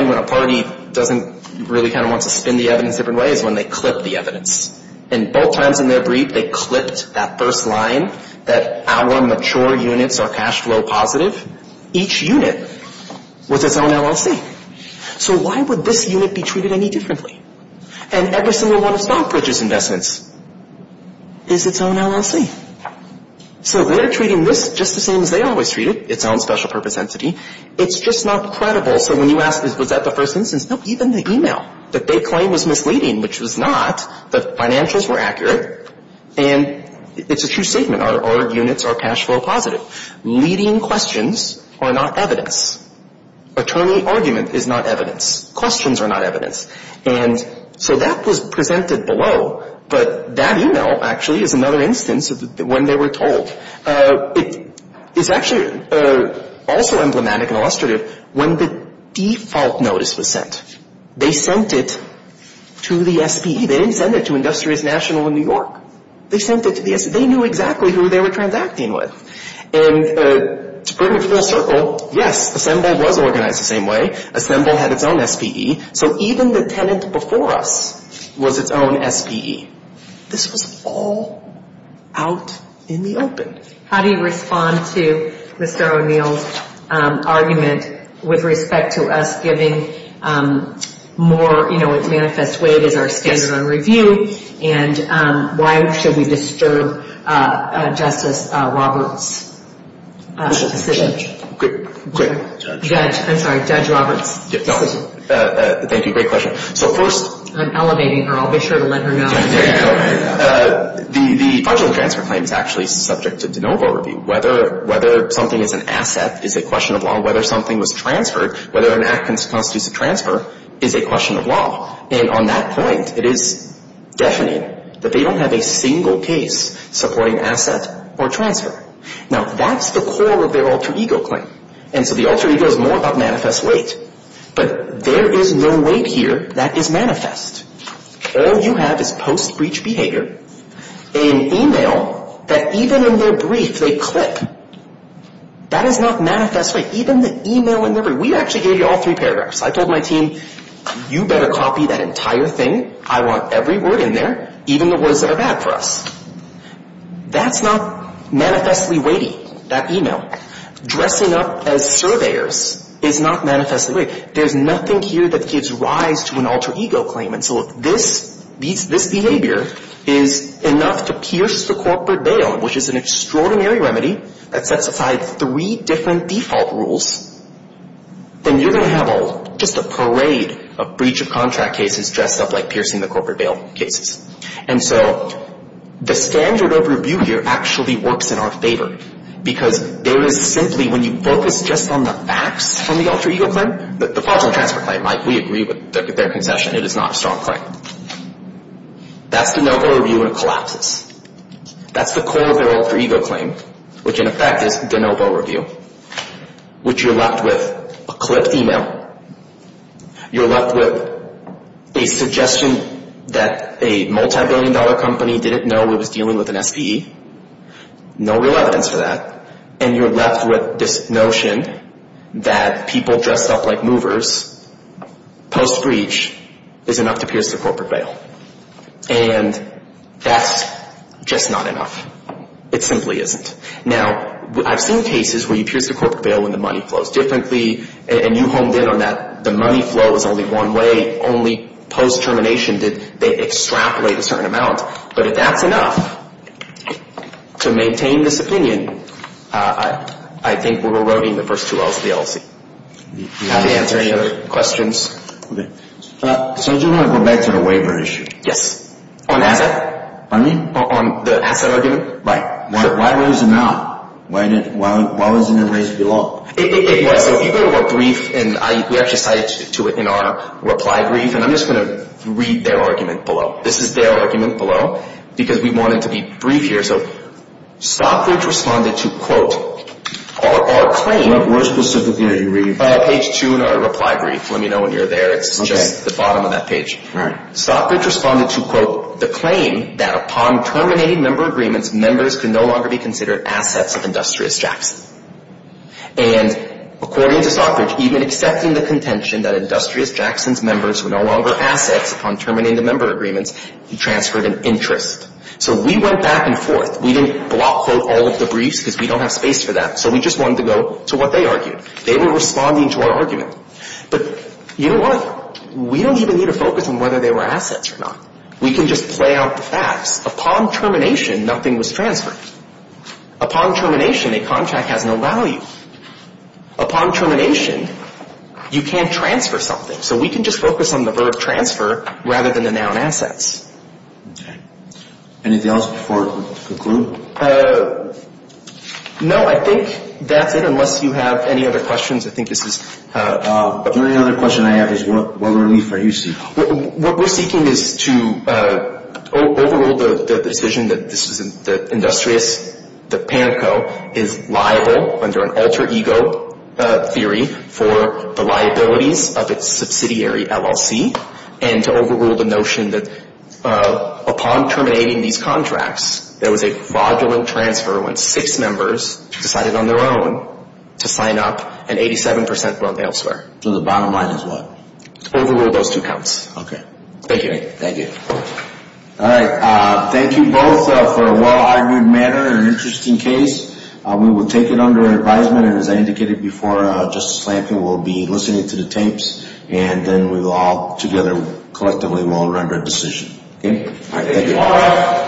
when a party doesn't really kind of want to spin the evidence different ways is when they clip the evidence. And both times in their brief, they clipped that first line that our mature units are cash flow positive. Each unit was its own LLC. So why would this unit be treated any differently? And every single one of Stockbridge's investments is its own LLC. So they're treating this just the same as they always treat it, its own special purpose entity. It's just not credible. So when you ask, was that the first instance? No, even the e-mail that they claim was misleading, which was not, the financials were accurate. And it's a true statement. Our units are cash flow positive. Leading questions are not evidence. Attorney argument is not evidence. Questions are not evidence. And so that was presented below. But that e-mail, actually, is another instance of when they were told. It's actually also emblematic and illustrative when the default notice was sent. They sent it to the SPE. They didn't send it to Industrious National in New York. They sent it to the SPE. They knew exactly who they were transacting with. And to bring it full circle, yes, Assemble was organized the same way. Assemble had its own SPE. So even the tenant before us was its own SPE. This was all out in the open. How do you respond to Mr. O'Neill's argument with respect to us giving more, you know, manifest weight as our standard on review? Yes. And why should we disturb Justice Roberts' decision? Judge. Judge. Judge. I'm sorry, Judge Roberts. No. Thank you. Great question. So first. I'm elevating her. I'll be sure to let her know. There you go. The fraudulent transfer claim is actually subject to de novo review. Whether something is an asset is a question of law. Whether something was transferred, whether an act constitutes a transfer, is a question of law. And on that point, it is deafening that they don't have a single case supporting asset or transfer. Now, that's the core of their alter ego claim. And so the alter ego is more about manifest weight. But there is no weight here that is manifest. All you have is post-breach behavior, an email that even in their brief they clip. That is not manifest weight. Even the email in their brief. We actually gave you all three paragraphs. I told my team, you better copy that entire thing. I want every word in there, even the words that are bad for us. That's not manifestly weighty, that email. Dressing up as surveyors is not manifestly weight. There is nothing here that gives rise to an alter ego claim. And so if this behavior is enough to pierce the corporate veil, which is an extraordinary remedy that sets aside three different default rules, then you're going to have just a parade of breach of contract cases dressed up like piercing the corporate veil cases. And so the standard overview here actually works in our favor. Because there is simply, when you focus just on the facts from the alter ego claim, the possible transfer claim, we agree with their concession, it is not a strong claim. That's the noble review when it collapses. That's the core of their alter ego claim, which in effect is the noble review. Which you're left with a clipped email. You're left with a suggestion that a multibillion dollar company didn't know it was dealing with an SPE. No real evidence for that. And you're left with this notion that people dressed up like movers, post-breach, is enough to pierce the corporate veil. And that's just not enough. It simply isn't. Now, I've seen cases where you pierce the corporate veil when the money flows differently. And you honed in on that the money flow is only one way. Only post-termination did they extrapolate a certain amount. But if that's enough to maintain this opinion, I think we're eroding the first two L's of the LLC. Do you have any other questions? Okay. So I do want to go back to the waiver issue. Yes. On asset? Pardon me? On the asset argument? Right. Why was it not? Why wasn't it raised below? It was. So if you go to our brief, and we actually cited to it in our reply brief, and I'm just going to read their argument below. This is their argument below because we wanted to be brief here. So Stockbridge responded to, quote, our claim. Where specifically are you reading? Page two in our reply brief. Let me know when you're there. It's just the bottom of that page. All right. Stockbridge responded to, quote, the claim that upon terminating member agreements, members can no longer be considered assets of Industrious Jackson. And according to Stockbridge, even accepting the contention that Industrious Jackson's members were no longer assets upon terminating the member agreements, he transferred an interest. So we went back and forth. We didn't quote all of the briefs because we don't have space for that. So we just wanted to go to what they argued. They were responding to our argument. But you know what? We don't even need to focus on whether they were assets or not. We can just play out the facts. Upon termination, nothing was transferred. Upon termination, a contract has no value. Upon termination, you can't transfer something. So we can just focus on the verb transfer rather than the noun assets. Okay. Anything else before we conclude? No, I think that's it unless you have any other questions. I think this is up. The only other question I have is what relief are you seeking? What we're seeking is to overrule the decision that this is that Industrious, that PANCO is liable under an alter ego theory for the liabilities of its subsidiary, LLC, and to overrule the notion that upon terminating these contracts, there was a fraudulent transfer when six members decided on their own to sign up, and 87% went elsewhere. So the bottom line is what? Overrule those two counts. Okay. Thank you. Thank you. All right. Thank you both for a well-argued matter and an interesting case. We will take it under advisement, and as I indicated before, Justice Flankin will be listening to the tapes, and then we will all together collectively will render a decision. Okay. Thank you.